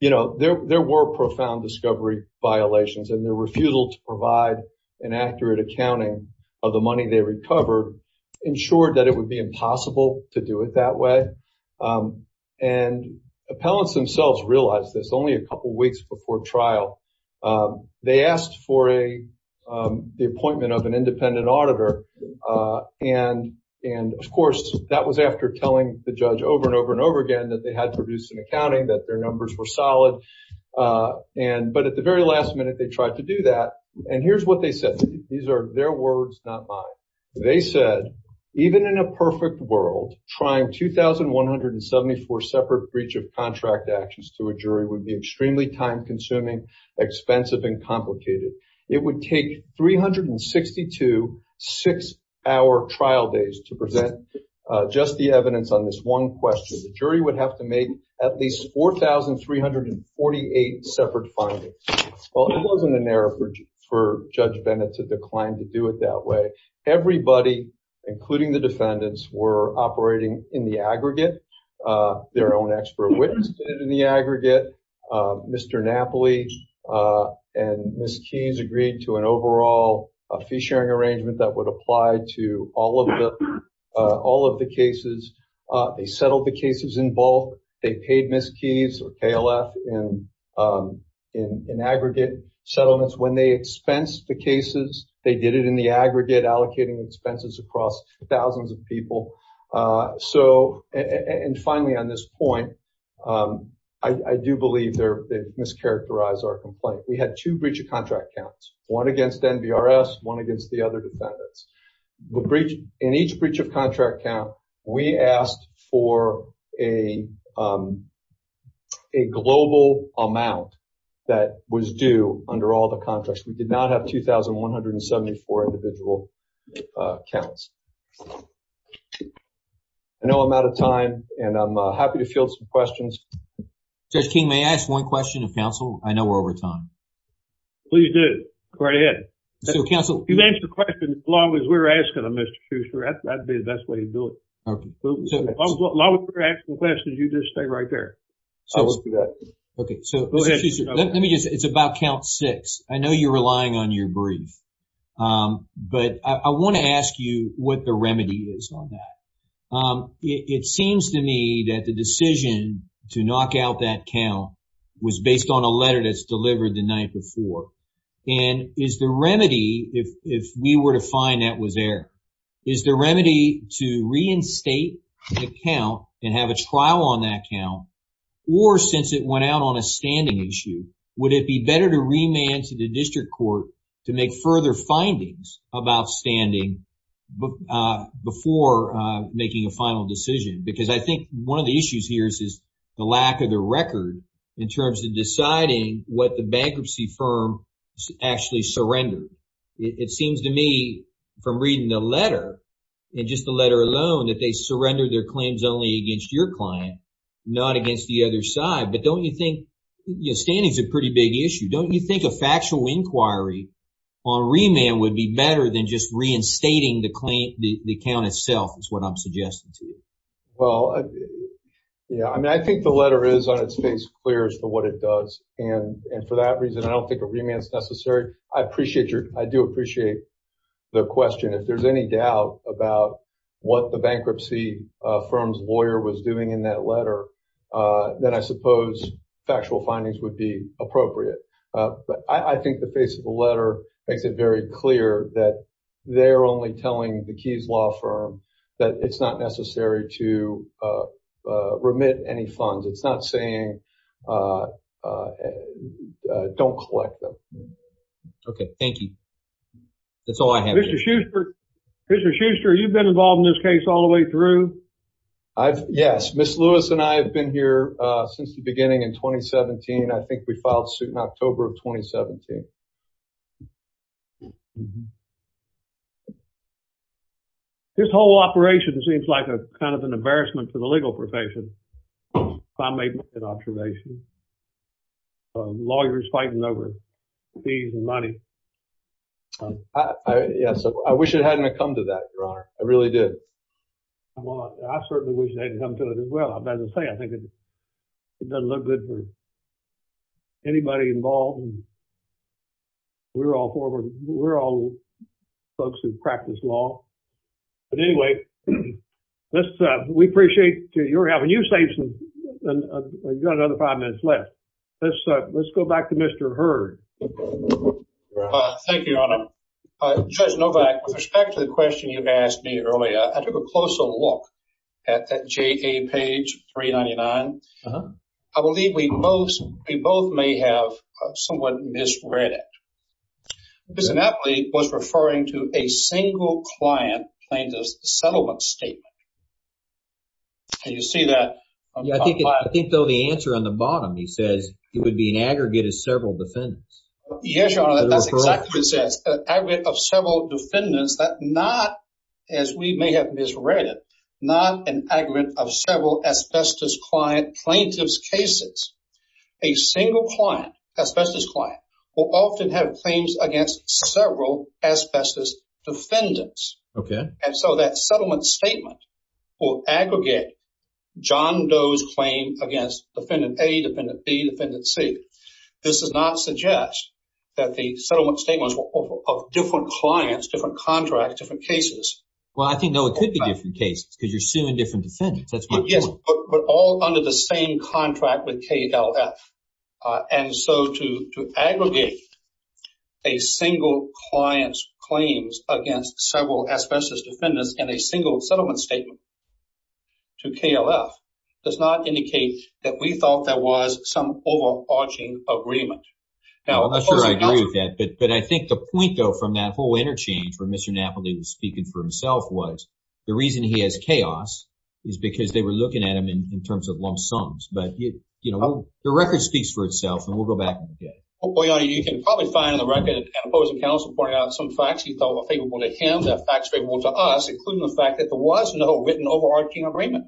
There were profound discovery violations, and their refusal to provide an accurate accounting of the money they recovered ensured that it would be impossible to do it that way. Appellants themselves realized this only a couple weeks before trial. They asked for the appointment of an independent auditor. Of course, that was after telling the judge over and over and over again that they had to reduce an accounting, that their numbers were solid. But at the very last minute, they tried to do that. And here's what they said. These are their words, not mine. They said, even in a perfect world, trying 2,174 separate breach of contract actions to a jury would be extremely time-consuming, expensive, and complicated. It would take 362 six-hour trial days to present just the evidence on this one question. The jury would have to make at least 4,348 separate findings. Well, it wasn't an error for Judge Bennett to decline to do it that way. Everybody, including the defendants, were operating in the aggregate. Their own expert witnessed it in the aggregate. Mr. Napoli and Ms. Keyes agreed to an overall fee-sharing arrangement that would aggregate settlements. When they expensed the cases, they did it in the aggregate, allocating expenses across thousands of people. Finally, on this point, I do believe they mischaracterized our complaint. We had two breach of contract counts, one against NBRS, one against the other defendants. In each breach of contract count, we asked for a global amount that was due under all the contracts. We did not have 2,174 individual counts. I know I'm out of time, and I'm happy to field some questions. Judge King, may I ask one question of counsel? I know we're over time. Please do. Go right ahead. You can ask your question as long as we're asking them, Mr. Shuster. That would be the best way to do it. If I'm asking a question, you just stay right there. I will do that. It's about count six. I know you're relying on your brief, but I want to ask you what the remedy is on that. It seems to me that the decision to knock out that count was based on a letter that's delivered the night before. If we were to find that was there, is the remedy to reinstate the count and have a trial on that count, or since it went out on a standing issue, would it be better to remand to the district court to make further findings about standing before making a final decision? I think one of the issues here is the lack of the record in terms of deciding what the bankruptcy firm actually surrendered. It seems to me from reading the letter, and just the letter alone, that they surrender their claims only against your client, not against the other side. Standing is a pretty big issue. Don't you think a factual inquiry on remand would be better than just reinstating the account itself is what I'm suggesting to you? I think the letter is on its face clear as to what it does. For that reason, I don't think a remand is necessary. I do appreciate the question. If there's any doubt about what the bankruptcy firm's lawyer was doing in that letter, then I suppose factual findings would be appropriate. I think the face of the letter makes it very clear that they're only telling the Keyes Law Firm that it's not okay. Thank you. That's all I have. Mr. Schuster, you've been involved in this case all the way through? Yes. Ms. Lewis and I have been here since the beginning in 2017. I think we filed the suit in October of 2017. This whole operation seems like kind of an embarrassment for the legal profession. Lawyers fighting over fees and money. I wish it hadn't have come to that, Your Honor. I really did. I certainly wish it hadn't come to that as well. I think it doesn't look good for anybody involved. We're all folks who practice law. But anyway, we appreciate you having your say. We've got another five minutes left. Let's go back to Mr. Hurd. Thank you, Your Honor. Judge Novak, with respect to the question you asked me earlier, I took a closer look at that JA page 399. I believe we both may have somewhat misread it. It was referring to a single client plaintiff's settlement statement. Can you see that? I think the answer on the bottom, he says it would be an aggregate of several defendants. Yes, Your Honor, that's exactly what it says. An aggregate of several defendants, but not, as we may have misread it, not an aggregate of several asbestos client plaintiff's cases. A single client, asbestos client, will often have claims against several asbestos defendants. So that settlement statement will aggregate John Doe's claim against Defendant A, Defendant B, Defendant C. This does not suggest that the settlement statements are of different clients, different contracts, different cases. Well, I think those could be different cases because you're suing different defendants. That's what we're doing. But all under the same contract with a single client's claims against several asbestos defendants and a single settlement statement to KLF does not indicate that we thought there was some overarching agreement. Now, I'm not sure I agree with that, but I think the point, though, from that whole interchange where Mr. Napoli was speaking for himself was the reason he has chaos is because they were looking at him in terms of lump sums. But, you know, the record speaks for itself and we'll go back. You can probably find in the record that the opposing counsel pointed out some facts you thought were favorable to him that are favorable to us, including the fact that there was no written overarching agreement.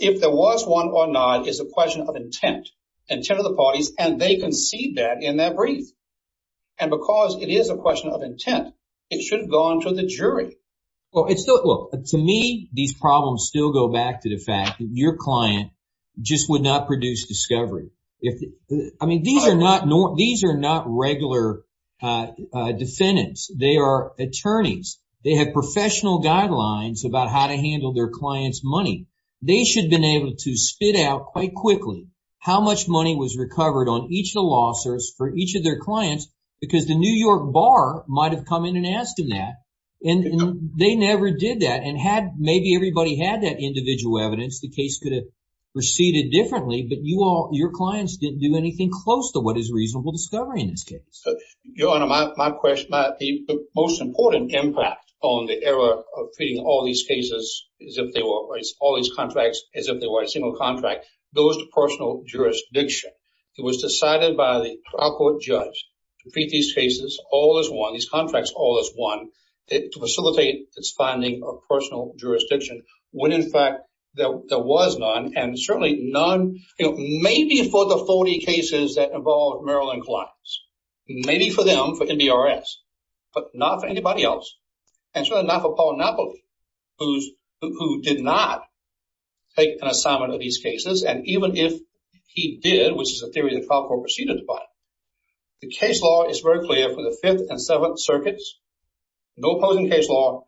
If there was one or not, it's a question of intent, intent of the parties, and they concede that in that brief. And because it is a question of intent, it should go on to the jury. Well, it's still, look, to me, these problems still go back to the fact that your client just would not produce discovery. I mean, these are not regular defendants. They are attorneys. They have professional guidelines about how to handle their client's money. They should have been able to spit out quite quickly how much money was recovered on each of the lawsuits for each of their clients because the New York bar might have come in and asked them that. And they never did that. And had maybe everybody had that individual evidence, the case could have proceeded differently. But you all, your clients didn't do anything close to what is reasonable discovery in this case. So, Your Honor, my question might be the most important impact on the error of feeding all these cases as if they were all these contracts as if they were a single contract. Those personal jurisdictions, it was decided by the trial court judge to feed these cases all as one, these contracts all as one, to facilitate its finding of personal jurisdiction when, in fact, there was none. And certainly none, you know, maybe for the 40 cases that involved Maryland clients, maybe for them, for NDRS, but not for anybody else. And certainly not for Paul Napoli, who did not take an assignment of these cases. And even if he did, which is a theory the trial court proceeded by, the case law is very clear for the Fifth and Seventh Circuits, no opposing case law,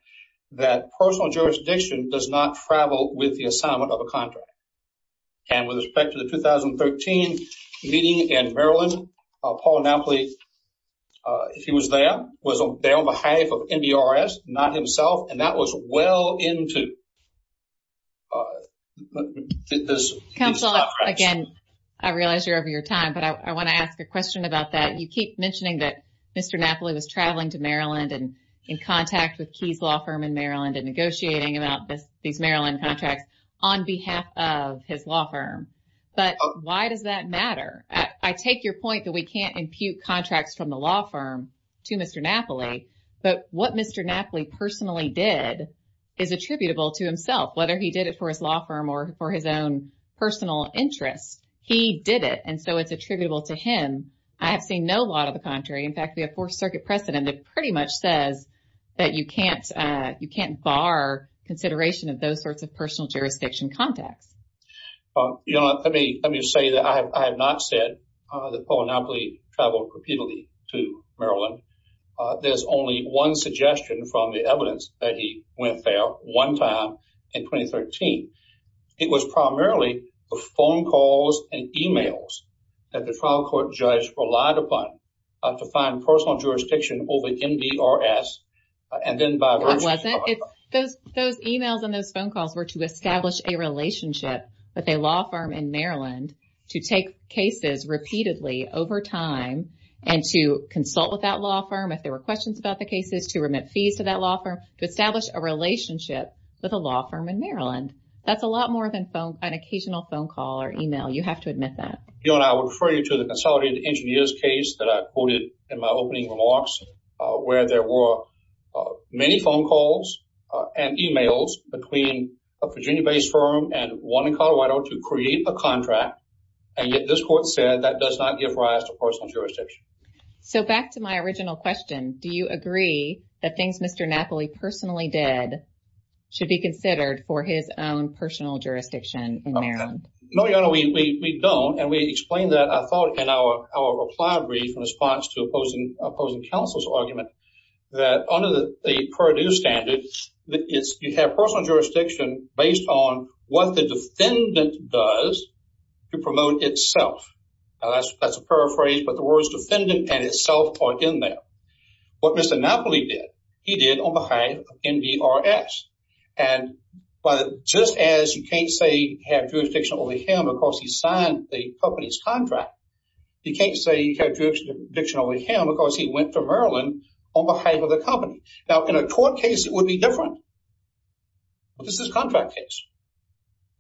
that personal jurisdiction does not travel with the assignment of a contract. And with respect to the 2013 meeting in Maryland, Paul Napoli, if he was there, was there on behalf of NDRS, not himself, and that was well into this. Counsel, again, I realize you're over your time, but I want to ask a question about that. You keep mentioning that Mr. Napoli was traveling to Maryland and in contact with Keith's law firm in Maryland and negotiating about these Maryland contracts on behalf of his law firm. But why does that matter? I take your point that we can't impute contracts from the law firm to Mr. Napoli, but what Mr. Napoli personally did is attributable to himself, whether he did it for his law firm or for his own personal interest. He did it, and so it's no law of the contrary. In fact, the Fourth Circuit precedent pretty much says that you can't bar consideration of those sorts of personal jurisdiction contacts. You know, let me say that I have not said that Paul Napoli traveled repeatedly to Maryland. There's only one suggestion from the evidence that he went there one time in 2013. It was primarily the phone calls and e-mails that the trial court judge relied upon to find personal jurisdiction over NDRS, and then by... That wasn't. Those e-mails and those phone calls were to establish a relationship with a law firm in Maryland to take cases repeatedly over time and to consult with that law firm if there were questions about the cases, to remit fees to that law firm, to phone call or e-mail. You have to admit that. Joan, I will refer you to the consolidated engineers case that I quoted in my opening remarks where there were many phone calls and e-mails between a Virginia-based firm and one in Colorado to create a contract, and yet this court said that does not give rise to personal jurisdiction. So back to my original question, do you agree that things Mr. Napoli personally did should be considered for his own personal jurisdiction in Maryland? No, we don't, and we explained that, I thought, in our reply brief in response to opposing counsel's argument that under the Purdue standards, you have personal jurisdiction based on what the defendant does to promote itself. Now, that's a paraphrase, but the words Mr. Napoli did, he did on behalf of NDRS, and just as you can't say you have jurisdiction over him because he signed the company's contract, you can't say you have jurisdiction over him because he went to Maryland on behalf of the company. Now, in a court case, it would be different, but this is a contract case.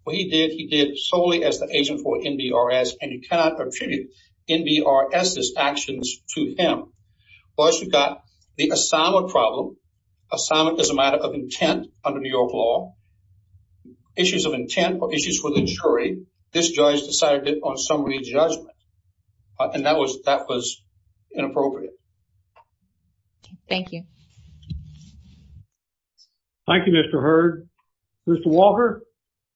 What he did, he did solely as the agent for NDRS, and you cannot attribute NDRS's actions to him. Plus, you've got the assignment problem. Assignment is a matter of intent under New York law. Issues of intent or issues for the jury, this judge decided it on summary judgment, and that was inappropriate. Thank you. Thank you, Mr. Hurd. Mr. Walker?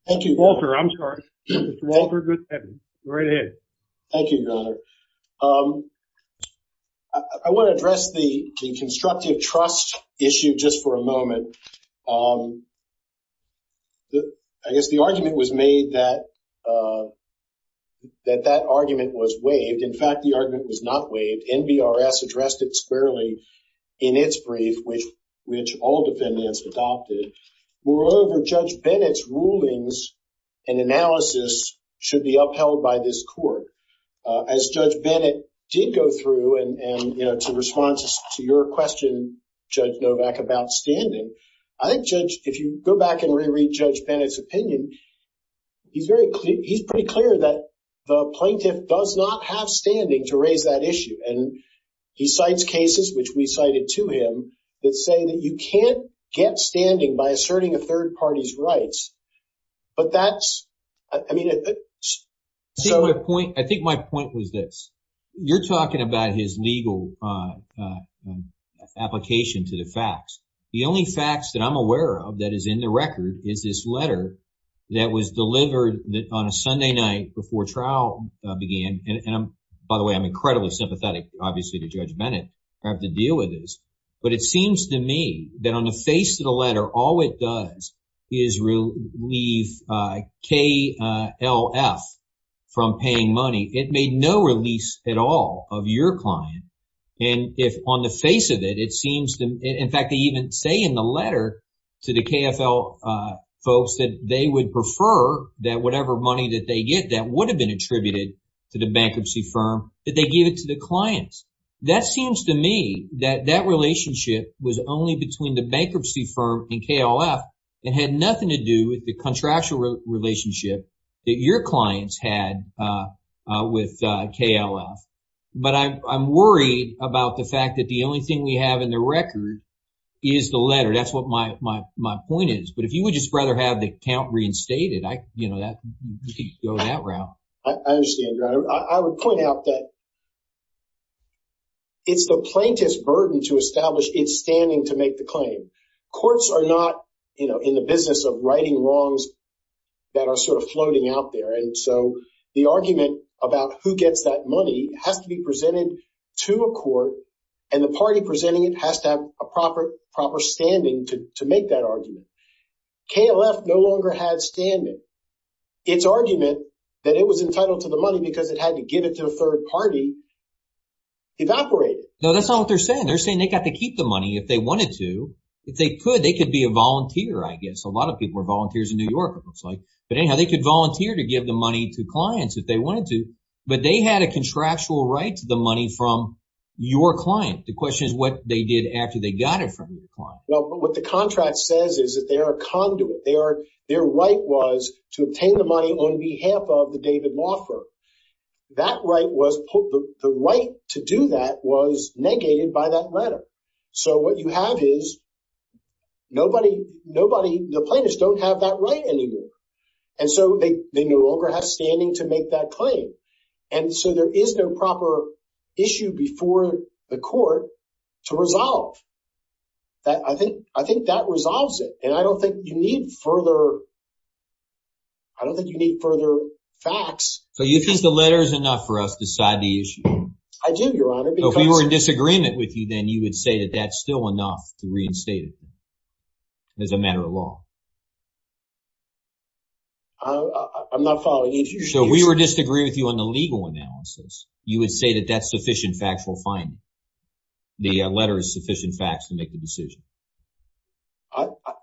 Thank you. Walter, I'm sorry. Mr. Walker, go ahead. Right ahead. Thank you, Governor. I want to address the constructive trust issue just for a moment. I guess the argument was made that that argument was waived. In fact, the argument was not waived. NDRS addressed it squarely in its brief, which all defendants adopted. Moreover, Judge Bennett's rulings and analysis should be upheld by this court. As Judge Bennett did go through, and to response to your question, Judge Novak, about standing, if you go back and reread Judge Bennett's opinion, he's pretty clear that the plaintiff does not have standing to raise that issue. He cites cases, which we cited to him, that say that you can't get standing by asserting a stand. I think my point was this. You're talking about his legal application to the facts. The only facts that I'm aware of that is in the record is this letter that was delivered on a Sunday night before trial began. By the way, I'm incredibly sympathetic, obviously, to Judge Bennett. I have KLF from paying money. It made no release at all of your client. In fact, they even say in the letter to the KFL folks that they would prefer that whatever money that they get that would have been attributed to the bankruptcy firm, that they give it to the clients. That seems to me that that relationship was only between the bankruptcy firm and KLF. It had nothing to do with the contractual relationship that your clients had with KLF. But I'm worried about the fact that the only thing we have in the record is the letter. That's what my point is. But if he would just rather have the account reinstated, I could go that route. I understand. I would point out that it's the plaintiff's burden to establish its standing to make the claim. Courts are not in the business of writing laws that are sort of floating out there. And so the argument about who gets that money has to be presented to a court and the party presenting it has to have a proper standing to make that argument. KLF no longer had standing. Its argument that it was entitled to the money because it had to give it to a third party evaporated. No, that's not what they're saying. They're saying they got to keep the money if they wanted to. If they could, they could be a volunteer, I guess. A lot of people are volunteers in New York, it looks like. But anyhow, they could volunteer to give the money to clients if they wanted to. But they had a contractual right to the money from your client. The question is what they did after they got it from your client. Well, what the contract says is that they are a conduit. They are, their right was to obtain the money on behalf of the David Wofford. That right was, the right to do that was negated by that letter. So what you have is nobody, the plaintiffs don't have that right anymore. And so they no longer have standing to make that claim. And so there is no proper issue before the court to resolve. I think that resolves it. And I don't think you need further, I don't think you need further facts. So you think the letter is enough for us to decide the issue? I do, Your Honor. So if we were in disagreement with you, then you would say that that's still enough to reinstate it as a matter of law? I'm not following you here. So if we were to disagree with you on the legal analysis, you would say that that's sufficient factual finding? The letter is sufficient facts to make a decision?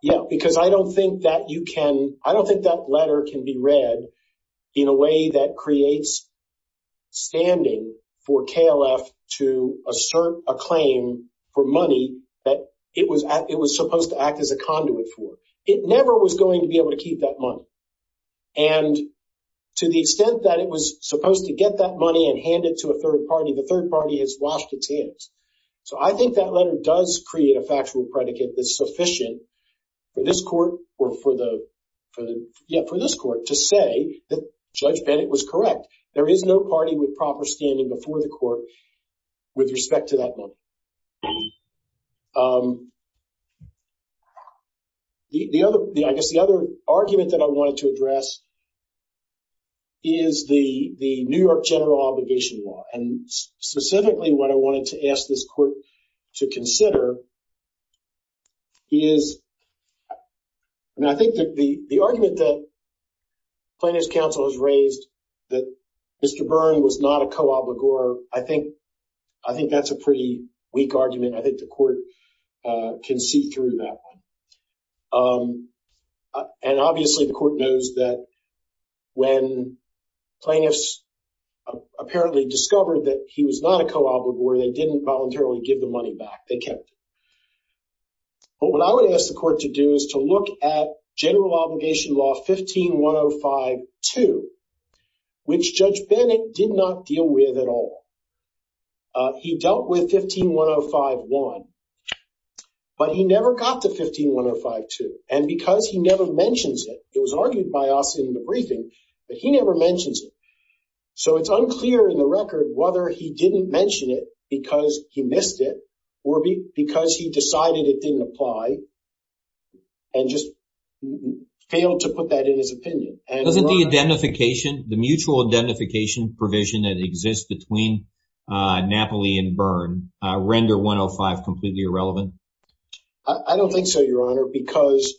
Yeah, because I don't think that you can, I don't think that letter can be read in a way that creates standing for KLF to assert a claim for money that it was supposed to act as a conduit for. It never was going to be able to keep that money. And to the extent that it was supposed to get that money and hand it to a third party, the third party has lost its hands. So I think that sufficient for this court to say that it was correct. There is no party with proper standing before the court with respect to that money. I guess the other argument that I wanted to address is the New York general obligation law. And specifically what I wanted to ask this court to consider is, and I think that the argument that plaintiff's counsel has raised that Mr. Byrne was not a co-obligor, I think that's a pretty weak argument. I think the court can see through that one. And obviously the court knows that when plaintiffs apparently discovered that he was not a co-obligor, they didn't voluntarily give the money back. They kept it. But what I would ask the court to do is to look at general obligation law 15-105-2, which Judge Bennett did not deal with at all. He dealt with 15-105-1, but he never got to 15-105-2. And because he never mentions it, it was argued by us in the briefing that he never mentions it. So it's unclear in the record whether he didn't mention it because he missed it or because he decided it didn't apply and just failed to put that in his opinion. Doesn't the identification, the mutual identification provision that exists between Napoli and Byrne, render 105 completely irrelevant? I don't think so, Your Honor, because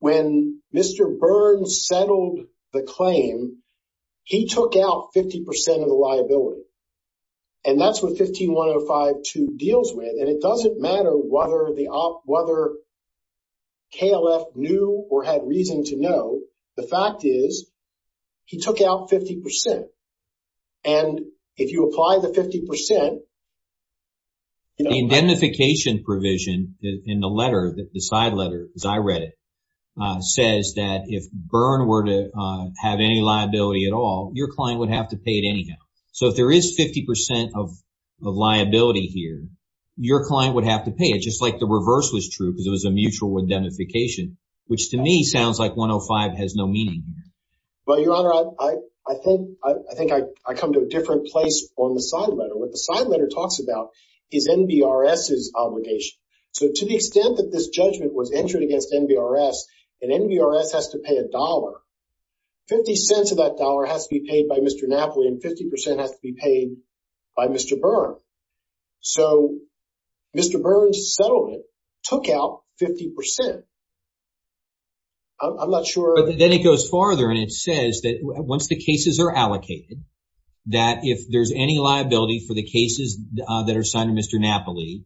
when Mr. Byrne settled the claim, he took out 50% of the liability. And that's what 15-105-2 deals with. And it doesn't matter whether KLF knew or had reason to know. The fact is, he took out 50%. And if you apply the 50%- The identification provision in the letter, the side letter, as I read it, says that if Byrne were to have any liability at all, your client would have to pay it anyhow. So if there is 50% of liability here, your client would have to pay. It's just like the reverse was true because it was a mutual identification, which to me sounds like 105 has no meaning. Well, Your Honor, I think I come to a different place on the side letter. What the side letter talks about is NDRS's obligation. So to the extent that this judgment was entered against NDRS and NDRS has to pay a dollar, 50 cents of that dollar has to be paid by Mr. Napoli and 50% has to be paid by Mr. Byrne. So Mr. Byrne's settlement took out 50%. I'm not sure- Then it goes farther and it says that once the cases are allocated, that if there's any liability for the cases that are assigned to Mr. Napoli,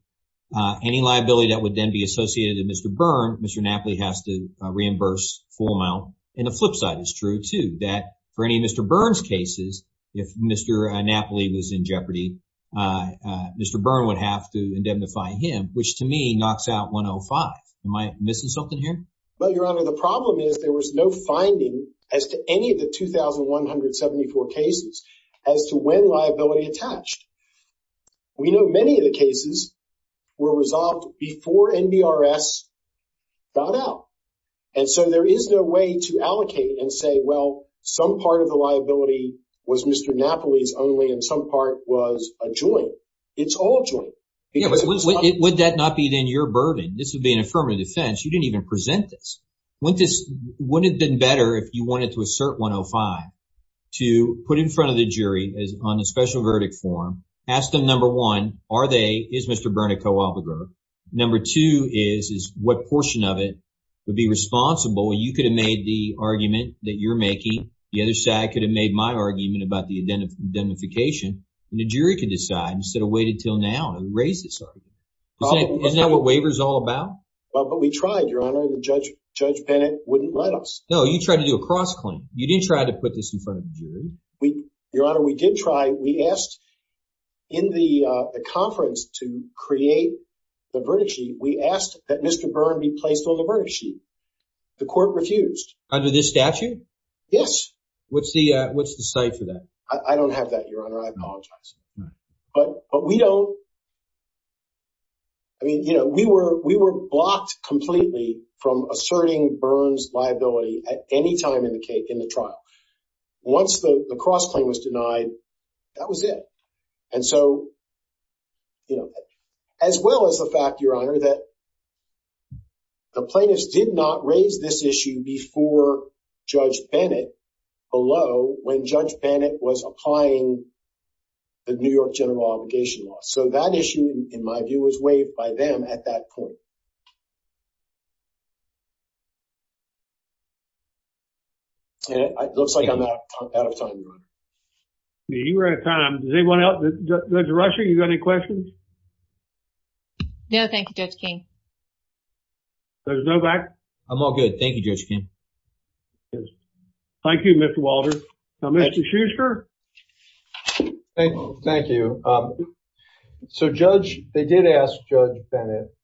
any liability that would then be associated with Mr. Byrne, Mr. Napoli has to reimburse full amount. And the flip side is true too, that for any of Mr. Byrne's cases, if Mr. Napoli was in jeopardy, Mr. Byrne would have to indemnify him, which to me knocks out 105. Am I missing something here? Well, Your Honor, the problem is there was no finding as to any of the 2,174 cases as to when liability attached. We know many of the cases were resolved before NDRS found out. And so there is no way to allocate and say, well, some part of the liability was Mr. Napoli's only and some part was a joint. It's all joint. Yeah, but would that not be then your burden? This would be an affirmative defense. You didn't even present this. Wouldn't it have been better if you wanted to assert 105 to put in front of the jury on a special verdict form, ask them, number one, are they, is Mr. Byrne a co-offender? Number two is, is what portion of it would be responsible? You could have made the argument that you're making. The other side could have made my argument about the indemnification and the jury could decide instead of waiting until now and erase this argument. Isn't that what waiver's all about? Well, but we tried, Your Honor, and Judge Bennett wouldn't let us. No, you tried to do a cross claim. You did try to put this in front of the jury. Your Honor, we did try. We asked in the conference to create the verdict sheet. We asked that Mr. Byrne be placed on the verdict sheet. The court refused. Under this statute? Yes. What's the, what's the site for that? I don't have that, Your Honor. I apologize. But we don't, I mean, you know, we were, we were blocked completely from asserting Byrne's liability at any time in the trial. Once the cross claim was denied, that was it. And so, you know, as well as the fact, Your Honor, that the plaintiffs did not raise this issue before Judge Bennett below when Judge Bennett was applying the New York General Obligation Law. So that issue, in my view, was waived by them at that point. And it looks like I'm out of time, Your Honor. You're out of time. Does anyone else, Judge Rushing, you got any questions? No, thank you, Judge King. Judge Novak? I'm all good, thank you, Judge King. Thank you, Mr. Walters. Now, Mr. Shuster? Thank you. So Judge, they did ask Judge Bennett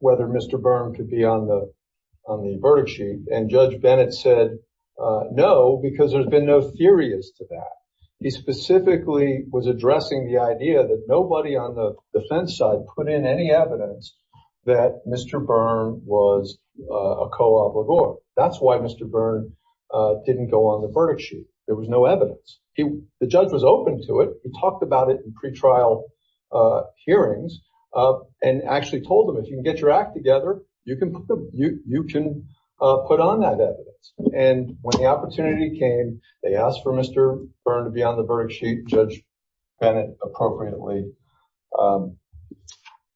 whether Mr. Byrne could be on the, on the verdict sheet, and Judge Bennett said no, because there had been no theories to that. He specifically was addressing the idea that nobody on the defense side put in any evidence that Mr. Byrne was a co-obligor. That's why Mr. Byrne didn't go on the verdict sheet. There was no evidence. He, the judge was open to it. He talked about it in pretrial hearings and actually told him, if you can get your act together, you can put on that evidence. And when the opportunity came, they asked for Mr. Byrne to be on the verdict sheet. Judge Bennett appropriately,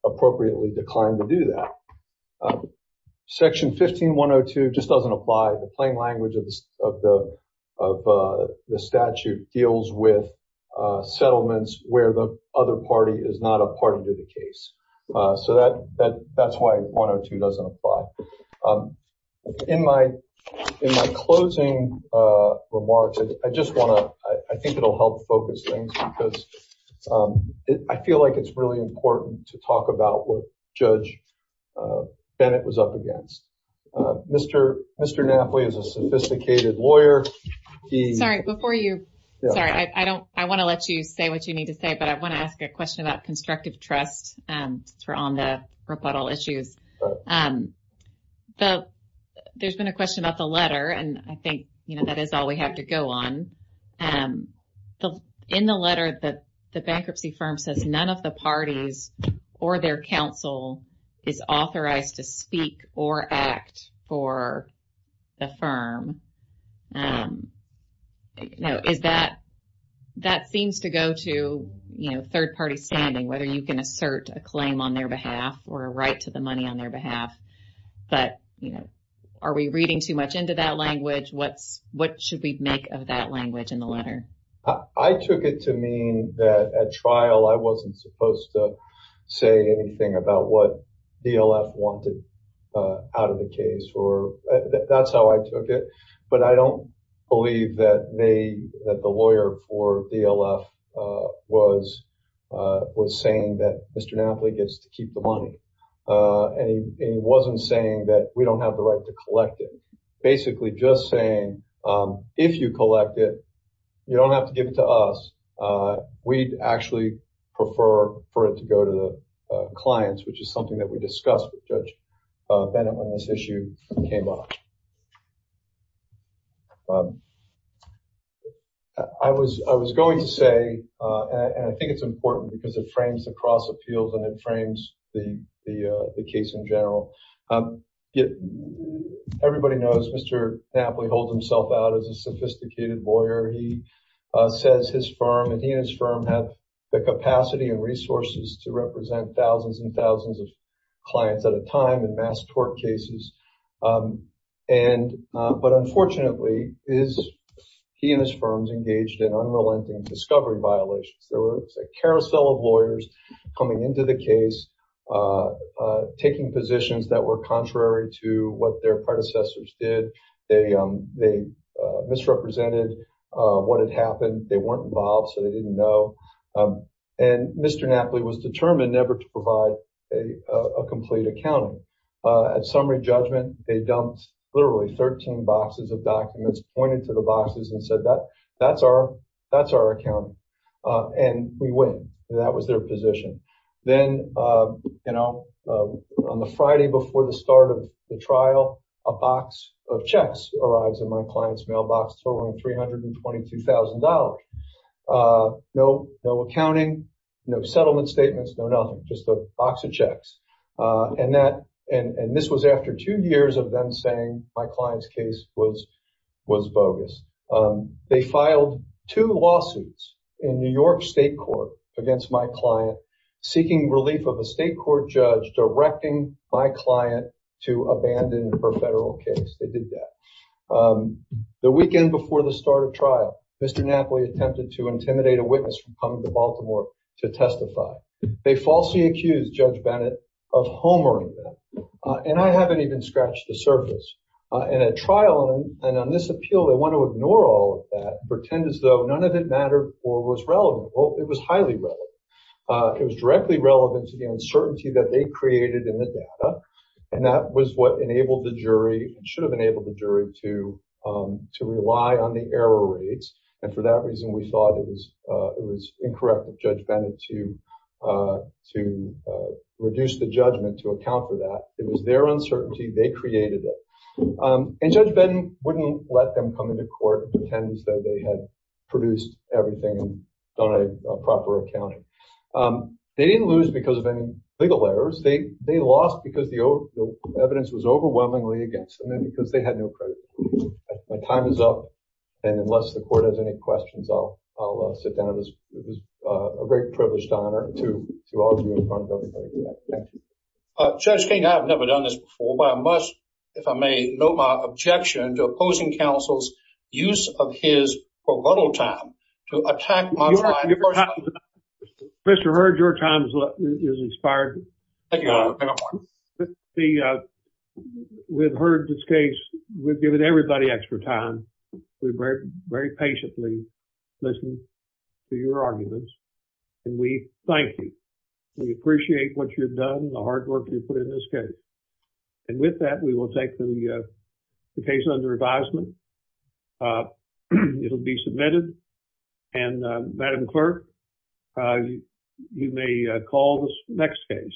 appropriately declined to do that. Section 15-102 just doesn't apply. The plain language of the, of the statute deals with settlements where the other party is not a part of the case. So that, that, that's why 102 doesn't apply. In my, in my closing remarks, I just want to, I think it'll help focus things because I feel like it's really important to talk about what Bennett was up against. Mr. Napoli is a sophisticated lawyer. Sorry, before you, sorry, I don't, I want to let you say what you need to say, but I want to ask you a question about constructive trust on the rebuttal issues. So there's been a question about the letter and I think, you know, that is all we have to go on. So in the letter, the bankruptcy firm says none of the parties or their counsel is authorized to speak or act for the firm. Now, is that, that seems to go to, you know, third-party standing, whether you can assert a claim on their behalf or write to the money on their behalf. But, you know, are we reading too much into that language? What, what should we make of that language in the letter? I took it to mean that at trial, I wasn't supposed to say anything about what DLF wanted out of the case or that's how I took it. But I don't believe that they, that the lawyer for DLF was, was saying that Mr. Napoli gets to keep the money. And he wasn't saying that we don't have the right to collect it. Basically just saying, if you collect it, you don't have to give it to us. We'd actually prefer for it to go to the clients, which is something that we discussed with Judge Bennett when this issue came up. I was, I was going to say, and I think it's important because it frames the cross appeals and it frames the, the case in general. Everybody knows Mr. Napoli holds himself out as a sophisticated lawyer. He says his firm and he and his firm have the capacity and resources to represent thousands and thousands of clients at a time in mass tort cases. And, but unfortunately is, he and his firm's engaged in unrelenting discovery violation. There was a carousel of the case, taking positions that were contrary to what their predecessors did. They misrepresented what had happened. They weren't involved, so they didn't know. And Mr. Napoli was determined never to provide a complete account. At summary judgment, they dumped literally 13 boxes of documents, pointed to the boxes and said, that that's our, that's our account. And we wouldn't. That was their position. Then, you know, on the Friday before the start of the trial, a box of checks arrives in my client's mailbox totaling $322,000. No, no accounting, no settlement statements, no nothing, just a box of checks. And that, and this was after two years of them saying my client's case was, was bogus. They filed two lawsuits in New York state court against my client, seeking relief of a state court judge, directing my client to abandon her federal case. They did that. The weekend before the start of trial, Mr. Napoli attempted to intimidate a witness from coming to Baltimore to testify. They falsely accused Judge Bennett of homering them. And I haven't even scratched the surface. In a trial, and on this matter, it was relevant. Well, it was highly relevant. It was directly relevant to the uncertainty that they created in the data. And that was what enabled the jury, should have enabled the jury to, to rely on the error rates. And for that reason, we thought it was, it was incorrect with Judge Bennett to, to reduce the judgment to account for that. It was their uncertainty. They created it. And Judge Bennett wouldn't let them come into court and pretend as though they had produced everything and done a proper accounting. They didn't lose because of any legal errors. They, they lost because the evidence was overwhelmingly against them, because they had no credibility. My time is up. And unless the court has any questions, I'll, I'll sit down. It was a great privilege to honor, to all of you in front of everybody here. Thank you. Judge King, I've never done this before, but I must, if I may, note my objection to opposing counsel's use of his promotal time to attack my client. Mr. Heard, your time is expired. We've heard this case. We've given everybody extra time. We've read very patiently, listened to your arguments, and we thank you. We appreciate what you've done, the hard work you've put in this case. And with that, we will take the, the case under advisement. It'll be submitted. And Madam Clerk, you may call this next case.